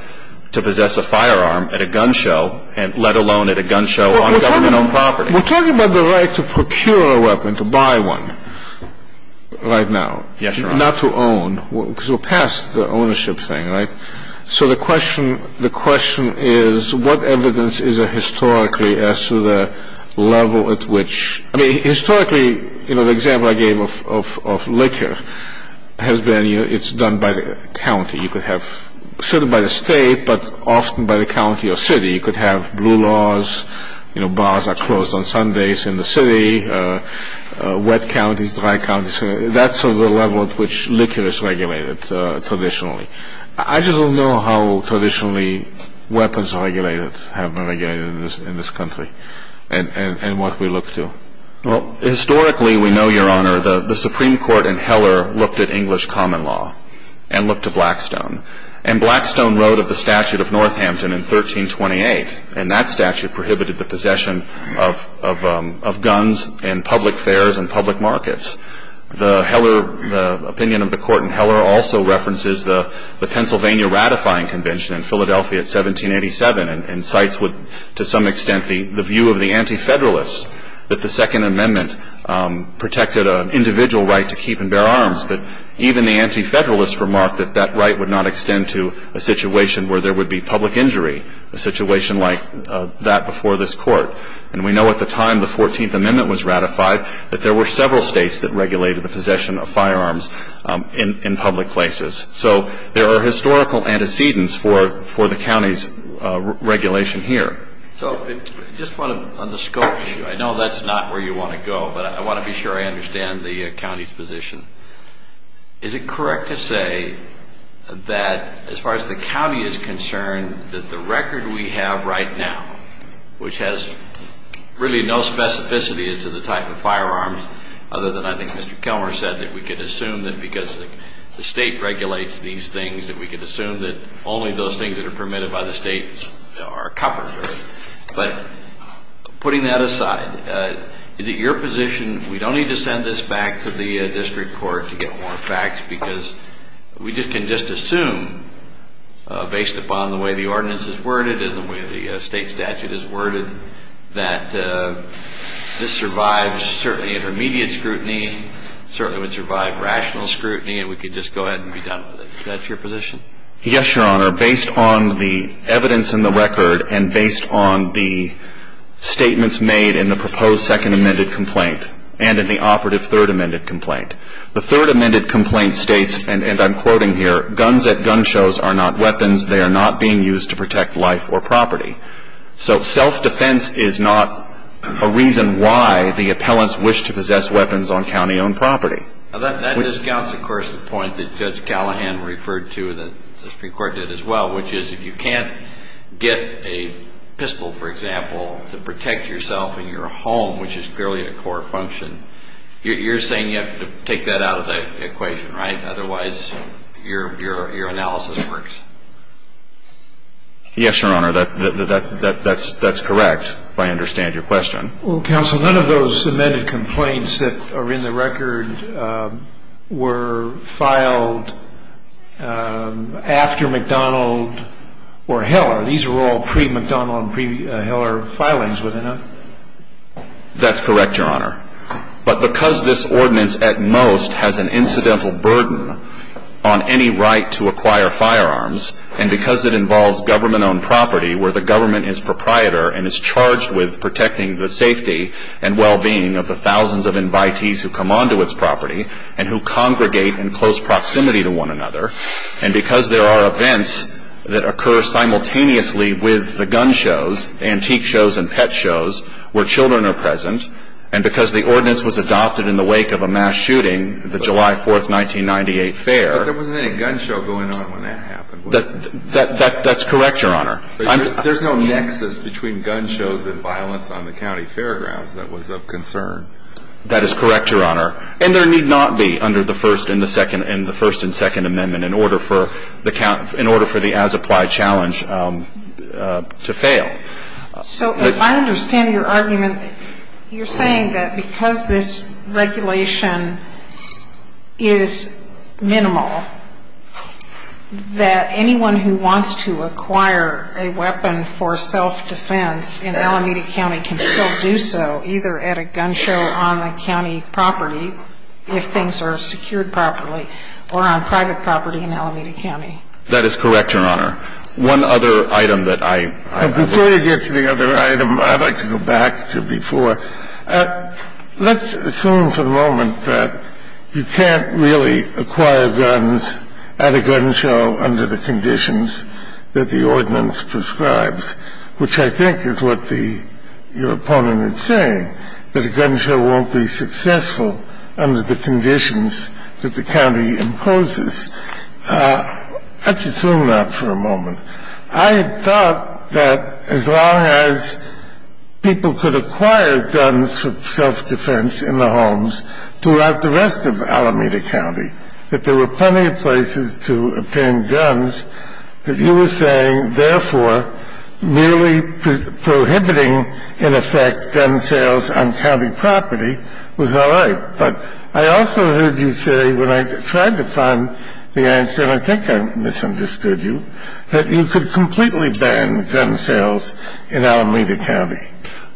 to possess a firearm at a gun show, let alone at a gun show on government-owned property. We're talking about the right to procure a weapon, to buy one right now. Yes, Your Honor. Not to own, because we're past the ownership thing, right? So the question is what evidence is there historically as to the level at which. I mean, historically, you know, the example I gave of liquor has been it's done by the county. You could have, certainly by the state, but often by the county or city. You could have blue laws, you know, bars are closed on Sundays in the city, wet counties, dry counties. That's sort of the level at which liquor is regulated traditionally. I just don't know how traditionally weapons are regulated, have been regulated in this country and what we look to. Well, historically, we know, Your Honor, the Supreme Court in Heller looked at English common law and looked to Blackstone, and Blackstone wrote of the statute of Northampton in 1328, and that statute prohibited the possession of guns in public fairs and public markets. The opinion of the court in Heller also references the Pennsylvania Ratifying Convention in Philadelphia in 1787 and cites to some extent the view of the Anti-Federalists that the Second Amendment protected an individual right to keep and bear arms, but even the Anti-Federalists remarked that that right would not extend to a situation where there would be public injury, a situation like that before this Court. And we know at the time the 14th Amendment was ratified that there were several states that regulated the possession of firearms in public places. So there are historical antecedents for the county's regulation here. So just on the scope issue, I know that's not where you want to go, but I want to be sure I understand the county's position. Is it correct to say that as far as the county is concerned that the record we have right now, which has really no specificity as to the type of firearms, other than I think Mr. Kelmer said that we could assume that because the state regulates these things that we could assume that only those things that are permitted by the state are covered? But putting that aside, is it your position, we don't need to send this back to the district court to get more facts because we can just assume, based upon the way the ordinance is worded and the way the state statute is worded, that this survives certainly intermediate scrutiny, certainly would survive rational scrutiny, and we could just go ahead and be done with it. Is that your position? Yes, Your Honor. Based on the evidence in the record and based on the statements made in the proposed second amended complaint and in the operative third amended complaint, the third amended complaint states, and I'm quoting here, guns at gun shows are not weapons. They are not being used to protect life or property. So self-defense is not a reason why the appellants wish to possess weapons on county-owned property. That discounts, of course, the point that Judge Callahan referred to and the Supreme Court did as well, which is if you can't get a pistol, for example, to protect yourself and your home, which is clearly a court function, you're saying you have to take that out of the equation, right? Otherwise, your analysis works. Yes, Your Honor. That's correct, if I understand your question. Counsel, none of those amended complaints that are in the record were filed after McDonald or Heller. These were all pre-McDonald and pre-Heller filings, were they not? That's correct, Your Honor. But because this ordinance at most has an incidental burden on any right to acquire firearms and because it involves government-owned property where the government is proprietor and is charged with protecting the safety and well-being of the thousands of invitees who come onto its property and who congregate in close proximity to one another, and because there are events that occur simultaneously with the gun shows, antique shows and pet shows, where children are present, and because the ordinance was adopted in the wake of a mass shooting, the July 4th, 1998, fair. But there wasn't any gun show going on when that happened, was there? That's correct, Your Honor. There's no nexus between gun shows and violence on the county fairgrounds that was of concern. That is correct, Your Honor. And there need not be under the First and the Second and the First and Second Amendment in order for the as-applied challenge to fail. So if I understand your argument, you're saying that because this regulation is minimal, that anyone who wants to acquire a weapon for self-defense in Alameda County can still do so either at a gun show on the county property, if things are secured properly, or on private property in Alameda County. That is correct, Your Honor. One other item that I ---- Before you get to the other item, I'd like to go back to before. Let's assume for a moment that you can't really acquire guns at a gun show under the conditions that the ordinance prescribes, which I think is what your opponent is saying, that a gun show won't be successful under the conditions that the county imposes. Let's assume that for a moment. I had thought that as long as people could acquire guns for self-defense in the homes throughout the rest of Alameda County, that there were plenty of places to obtain guns, that you were saying, therefore, merely prohibiting, in effect, gun sales on county property was all right. But I also heard you say when I tried to find the answer, and I think I misunderstood you, that you could completely ban gun sales in Alameda County.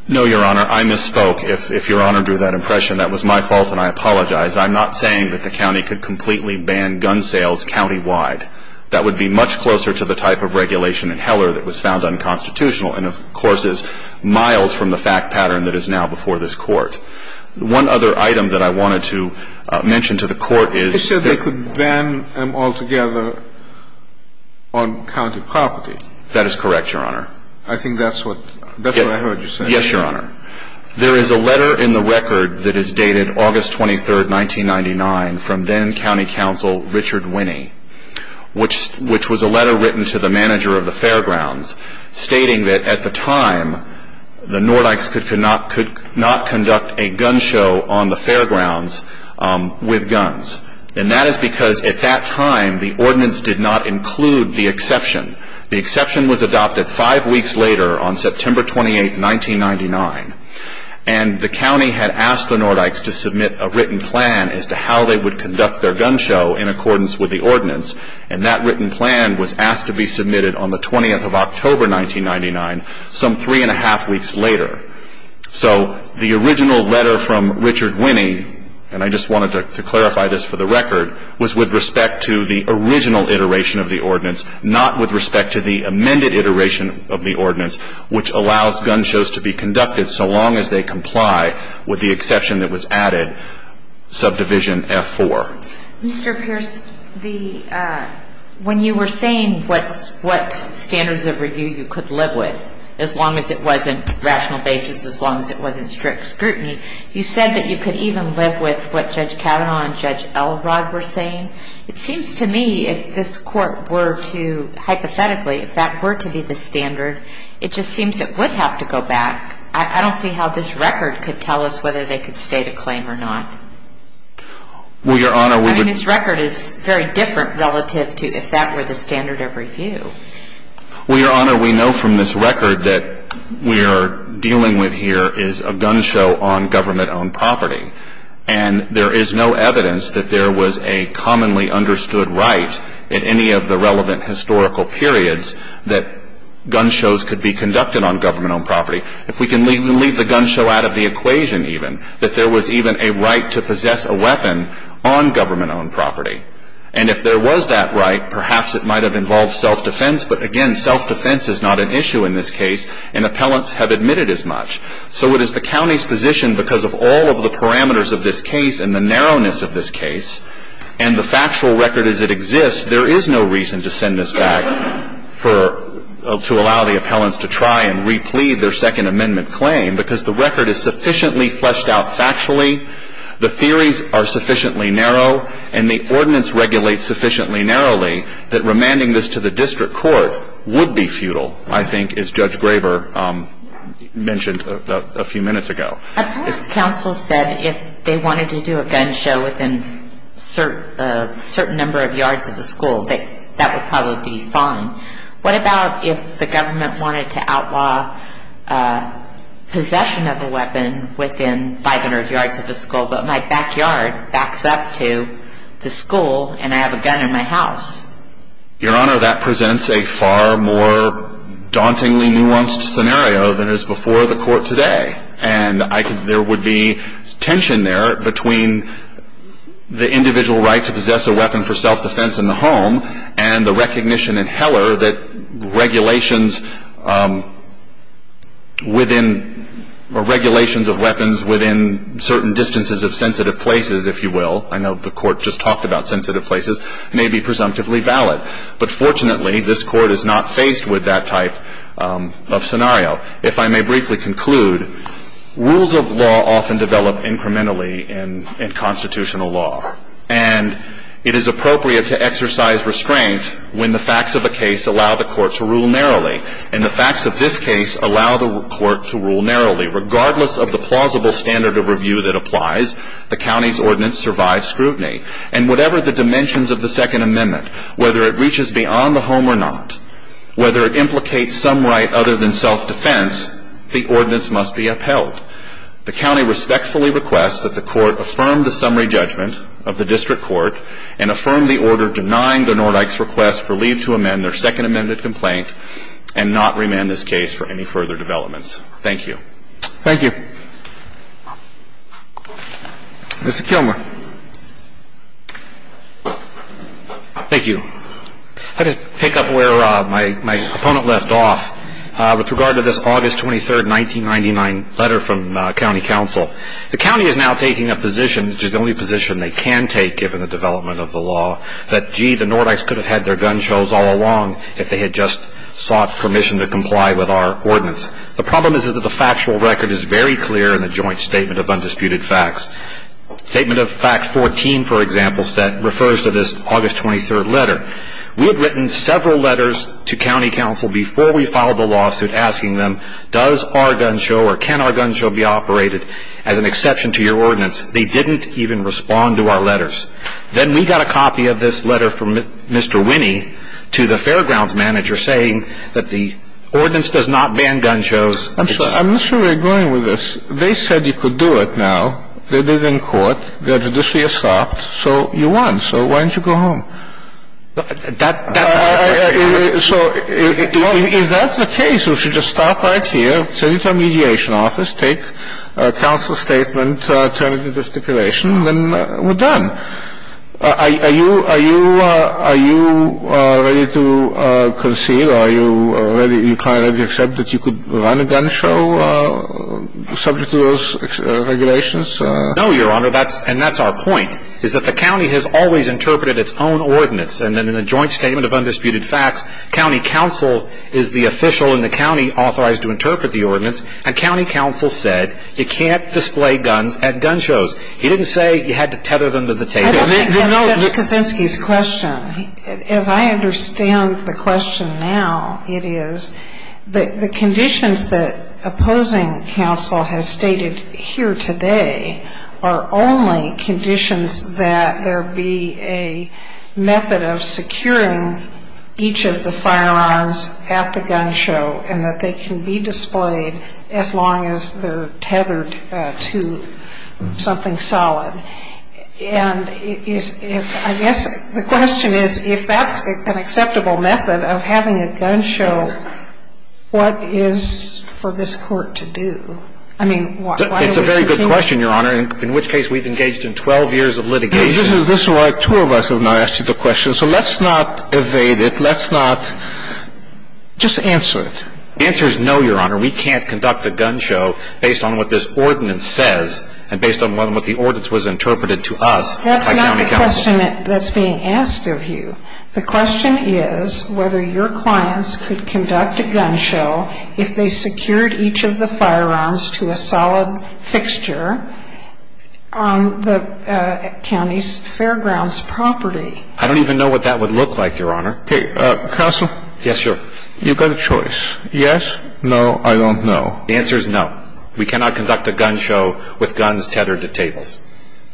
No, Your Honor. I misspoke. If Your Honor drew that impression, that was my fault, and I apologize. I'm not saying that the county could completely ban gun sales countywide. That would be much closer to the type of regulation in Heller that was found unconstitutional and, of course, is miles from the fact pattern that is now before this Court. One other item that I wanted to mention to the Court is that ---- That is correct, Your Honor. I think that's what I heard you say. Yes, Your Honor. There is a letter in the record that is dated August 23, 1999, from then County Counsel Richard Winney, which was a letter written to the manager of the fairgrounds stating that at the time, the Nordikes could not conduct a gun show on the fairgrounds with guns. And that is because at that time, the ordinance did not include the exception. The exception was adopted five weeks later on September 28, 1999, and the county had asked the Nordikes to submit a written plan as to how they would conduct their gun show in accordance with the ordinance, and that written plan was asked to be submitted on the 20th of October, 1999, some three and a half weeks later. So the original letter from Richard Winney, and I just wanted to clarify this for the record, was with respect to the original iteration of the ordinance, not with respect to the amended iteration of the ordinance, which allows gun shows to be conducted so long as they comply with the exception that was added, subdivision F-4. Mr. Pierce, the ---- when you were saying what standards of review you could live with, as long as it wasn't rational basis, as long as it wasn't strict scrutiny, you said that you could even live with what Judge Kavanaugh and Judge Elrod were saying. It seems to me if this Court were to hypothetically, if that were to be the standard, it just seems it would have to go back. I don't see how this record could tell us whether they could state a claim or not. Well, Your Honor, we would ---- I mean, this record is very different relative to if that were the standard of review. Well, Your Honor, we know from this record that we are dealing with here is a gun show on government-owned property. And there is no evidence that there was a commonly understood right in any of the relevant historical periods that gun shows could be conducted on government-owned property. If we can leave the gun show out of the equation even, that there was even a right to possess a weapon on government-owned property. And if there was that right, perhaps it might have involved self-defense. But, again, self-defense is not an issue in this case, and appellants have admitted as much. So it is the county's position because of all of the parameters of this case and the narrowness of this case, and the factual record as it exists, there is no reason to send this back for ---- to allow the appellants to try and replete their Second Amendment claim because the record is sufficiently fleshed out factually, the theories are sufficiently narrow, and the ordinance regulates sufficiently narrowly that remanding this to the district court would be futile, I think, as Judge Graver mentioned a few minutes ago. Appellants' counsel said if they wanted to do a gun show within a certain number of yards of the school, that that would probably be fine. What about if the government wanted to outlaw possession of a weapon within 500 yards of the school, but my backyard backs up to the school and I have a gun in my house? Your Honor, that presents a far more dauntingly nuanced scenario than is before the court today. And there would be tension there between the individual right to possess a weapon for self-defense in the home and the recognition in Heller that regulations within ---- or regulations of weapons within certain distances of sensitive places, if you will, I know the court just talked about sensitive places, may be presumptively valid. But fortunately, this Court is not faced with that type of scenario. If I may briefly conclude, rules of law often develop incrementally in constitutional law. And it is appropriate to exercise restraint when the facts of a case allow the court to rule narrowly. And the facts of this case allow the court to rule narrowly. Regardless of the plausible standard of review that applies, the county's ordinance survives scrutiny. And whatever the dimensions of the Second Amendment, whether it reaches beyond the home or not, whether it implicates some right other than self-defense, the ordinance must be upheld. The county respectfully requests that the court affirm the summary judgment of the district court and affirm the order denying the Nordykes' request for leave to amend their Second Amendment complaint and not remand this case for any further developments. Thank you. Thank you. Mr. Kilmer. Thank you. I'd like to pick up where my opponent left off with regard to this August 23, 1999 letter from county counsel. The county is now taking a position, which is the only position they can take given the development of the law, that, gee, the Nordykes could have had their gun shows all along if they had just sought permission to comply with our ordinance. The problem is that the factual record is very clear in the Joint Statement of Undisputed Facts. Statement of Fact 14, for example, refers to this August 23 letter. We had written several letters to county counsel before we filed the lawsuit asking them, does our gun show or can our gun show be operated as an exception to your ordinance? They didn't even respond to our letters. Then we got a copy of this letter from Mr. Winnie to the fairgrounds manager saying that the ordinance does not ban gun shows. I'm not sure we're going with this. They said you could do it now. They did it in court. They are judicially assault. So you won. So why don't you go home? So if that's the case, we should just stop right here, send it to our mediation office, take a counsel statement, turn it into a stipulation, and we're done. Are you ready to concede? Are you ready to accept that you could run a gun show subject to those regulations? No, Your Honor, and that's our point, is that the county has always interpreted its own ordinance. And then in the Joint Statement of Undisputed Facts, county counsel is the official in the county authorized to interpret the ordinance, and county counsel said you can't display guns at gun shows. He didn't say you had to tether them to the table. Judge Kaczynski's question, as I understand the question now, it is the conditions that opposing counsel has stated here today are only conditions that there be a method of securing each of the firearms at the gun show and that they can be displayed as long as they're tethered to something solid. And I guess the question is, if that's an acceptable method of having a gun show, what is for this Court to do? I mean, why do we continue? It's a very good question, Your Honor, in which case we've engaged in 12 years of litigation. This is why two of us have now asked you the question. So let's not evade it. Let's not. Just answer it. The answer is no, Your Honor. We can't conduct a gun show based on what this ordinance says and based on what the ordinance was interpreted to us by county counsel. That's not the question that's being asked of you. The question is whether your clients could conduct a gun show if they secured each of the firearms to a solid fixture on the county's fairgrounds property. I don't even know what that would look like, Your Honor. Counsel? Yes, Your Honor. You've got a choice. Yes, no, I don't know. The answer is no. We cannot conduct a gun show with guns tethered to tables.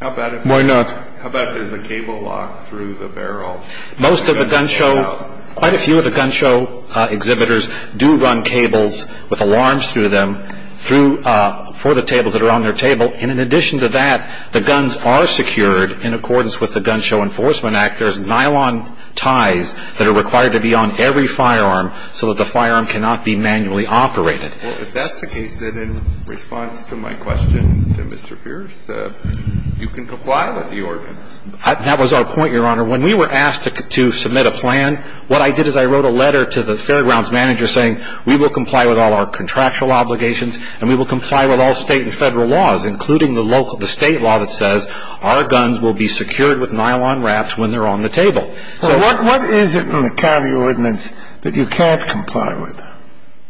Why not? How about if there's a cable lock through the barrel? Most of the gun show, quite a few of the gun show exhibitors do run cables with alarms through them for the tables that are on their table. And in addition to that, the guns are secured in accordance with the Gun Show Enforcement Act. There's nylon ties that are required to be on every firearm so that the firearm cannot be manually operated. Well, if that's the case, then in response to my question to Mr. Pierce, you can comply with the ordinance. That was our point, Your Honor. When we were asked to submit a plan, what I did is I wrote a letter to the fairgrounds manager saying we will comply with all our contractual obligations and we will comply with all state and federal laws, including the state law that says our guns will be secured with nylon wraps when they're on the table. So what is it in the county ordinance that you can't comply with?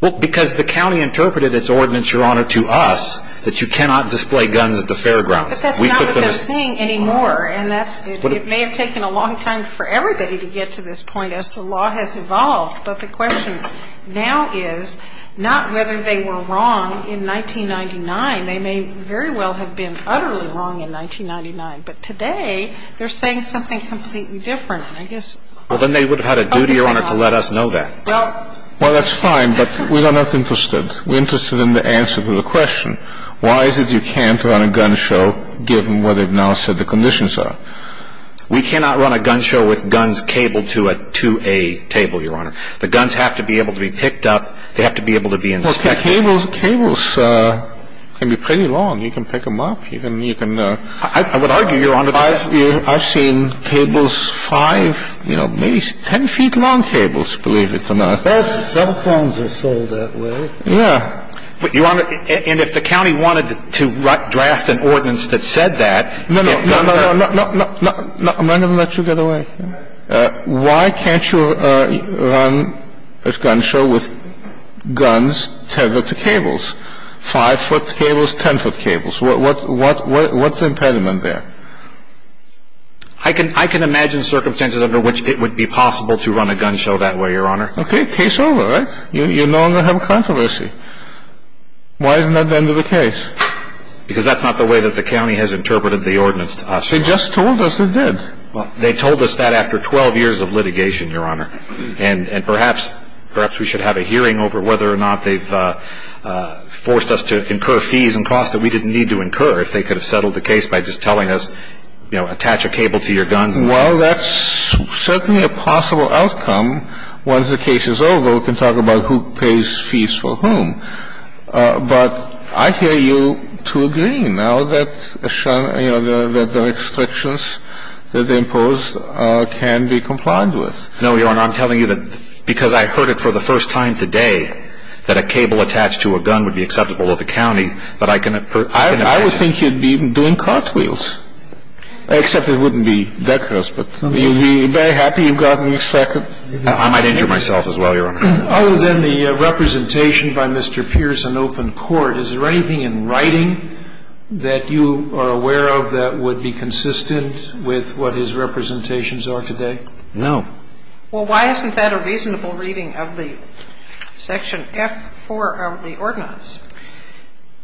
Well, because the county interpreted its ordinance, Your Honor, to us that you cannot display guns at the fairgrounds. But that's not what they're saying anymore. And it may have taken a long time for everybody to get to this point as the law has evolved. But the question now is not whether they were wrong in 1999. They may very well have been utterly wrong in 1999. But today they're saying something completely different. Well, then they would have had a duty, Your Honor, to let us know that. Well, that's fine. But we are not interested. We're interested in the answer to the question, why is it you can't run a gun show given what they've now said the conditions are? We cannot run a gun show with guns cabled to a table, Your Honor. The guns have to be able to be picked up. They have to be able to be inspected. Well, cables can be pretty long. You can pick them up. I would argue, Your Honor, I've seen cables five, maybe ten feet long cables, believe it or not. Cell phones are sold that way. Yeah. And if the county wanted to draft an ordinance that said that. No, no, no. I'm not going to let you get away. Why can't you run a gun show with guns tethered to cables? Five-foot cables, ten-foot cables. What's the impediment there? I can imagine circumstances under which it would be possible to run a gun show that way, Your Honor. Okay, case over, right? You no longer have a controversy. Why isn't that the end of the case? Because that's not the way that the county has interpreted the ordinance to us. They just told us they did. They told us that after 12 years of litigation, Your Honor. And perhaps we should have a hearing over whether or not they've forced us to incur fees and costs that we didn't need to incur if they could have settled the case by just telling us, you know, attach a cable to your guns. Well, that's certainly a possible outcome. Once the case is over, we can talk about who pays fees for whom. But I hear you to agree now that, you know, the restrictions that they imposed can be complied with. No, Your Honor. I'm telling you that because I heard it for the first time today that a cable attached to a gun would be acceptable to the county, that I can imagine. I would think you'd be doing cartwheels. Except it wouldn't be Becker's. But you'd be very happy you've gotten a second. I might injure myself as well, Your Honor. Other than the representation by Mr. Pierce in open court, is there anything in writing that you are aware of that would be consistent with what his representations are today? No. Well, why isn't that a reasonable reading of the section F-4 of the ordinance?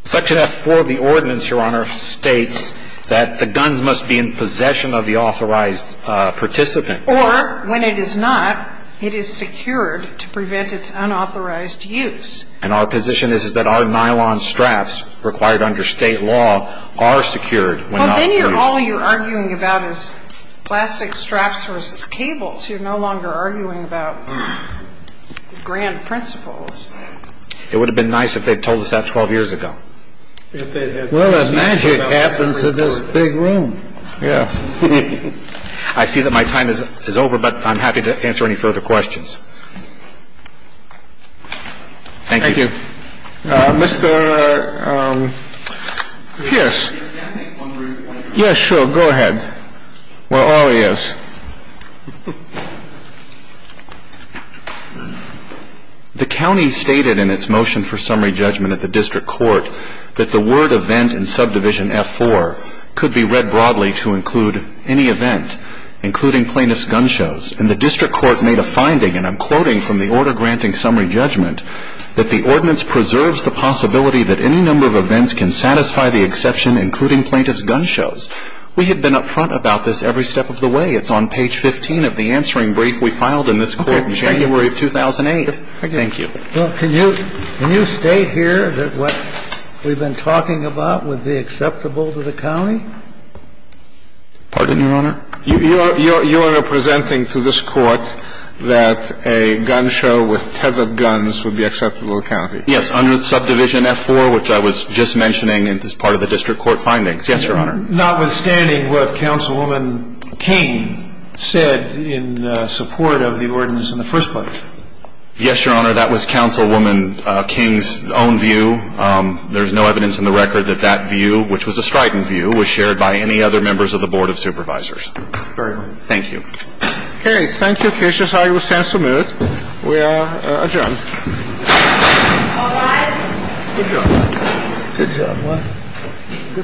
Section F-4 of the ordinance, Your Honor, states that the guns must be in possession of the authorized participant. Or when it is not, it is secured to prevent its unauthorized use. And our position is that our nylon straps required under State law are secured. Well, then all you're arguing about is plastic straps versus cables. You're no longer arguing about grand principles. It would have been nice if they had told us that 12 years ago. Well, if magic happens in this big room. Yes. I see that my time is over, but I'm happy to answer any further questions. Thank you. Thank you. Mr. Pierce. Yes, sure. Go ahead. Well, oh, yes. The county stated in its motion for summary judgment at the district court that the word event in subdivision F-4 could be read broadly to include any event, including plaintiff's gun shows. And the district court made a finding, and I'm quoting from the order granting summary judgment, that the ordinance preserves the possibility that any number of events can satisfy the exception, including plaintiff's gun shows. We had been up front about this every step of the way. It's on page 15 of the answering brief we filed in this court in January of 2008. Thank you. Well, can you state here that what we've been talking about would be acceptable to the county? Pardon, Your Honor? You are presenting to this court that a gun show with tethered guns would be acceptable to the county. Yes, under subdivision F-4, which I was just mentioning as part of the district court findings. Yes, Your Honor. Notwithstanding what Councilwoman King said in support of the ordinance in the first place. Yes, Your Honor. That was Councilwoman King's own view. There is no evidence in the record that that view, which was a strident view, was shared by any other members of the Board of Supervisors. Very well. Thank you. Okay. Thank you, Kish. This argument stands submitted. We are adjourned. All rise. Good job. Good job.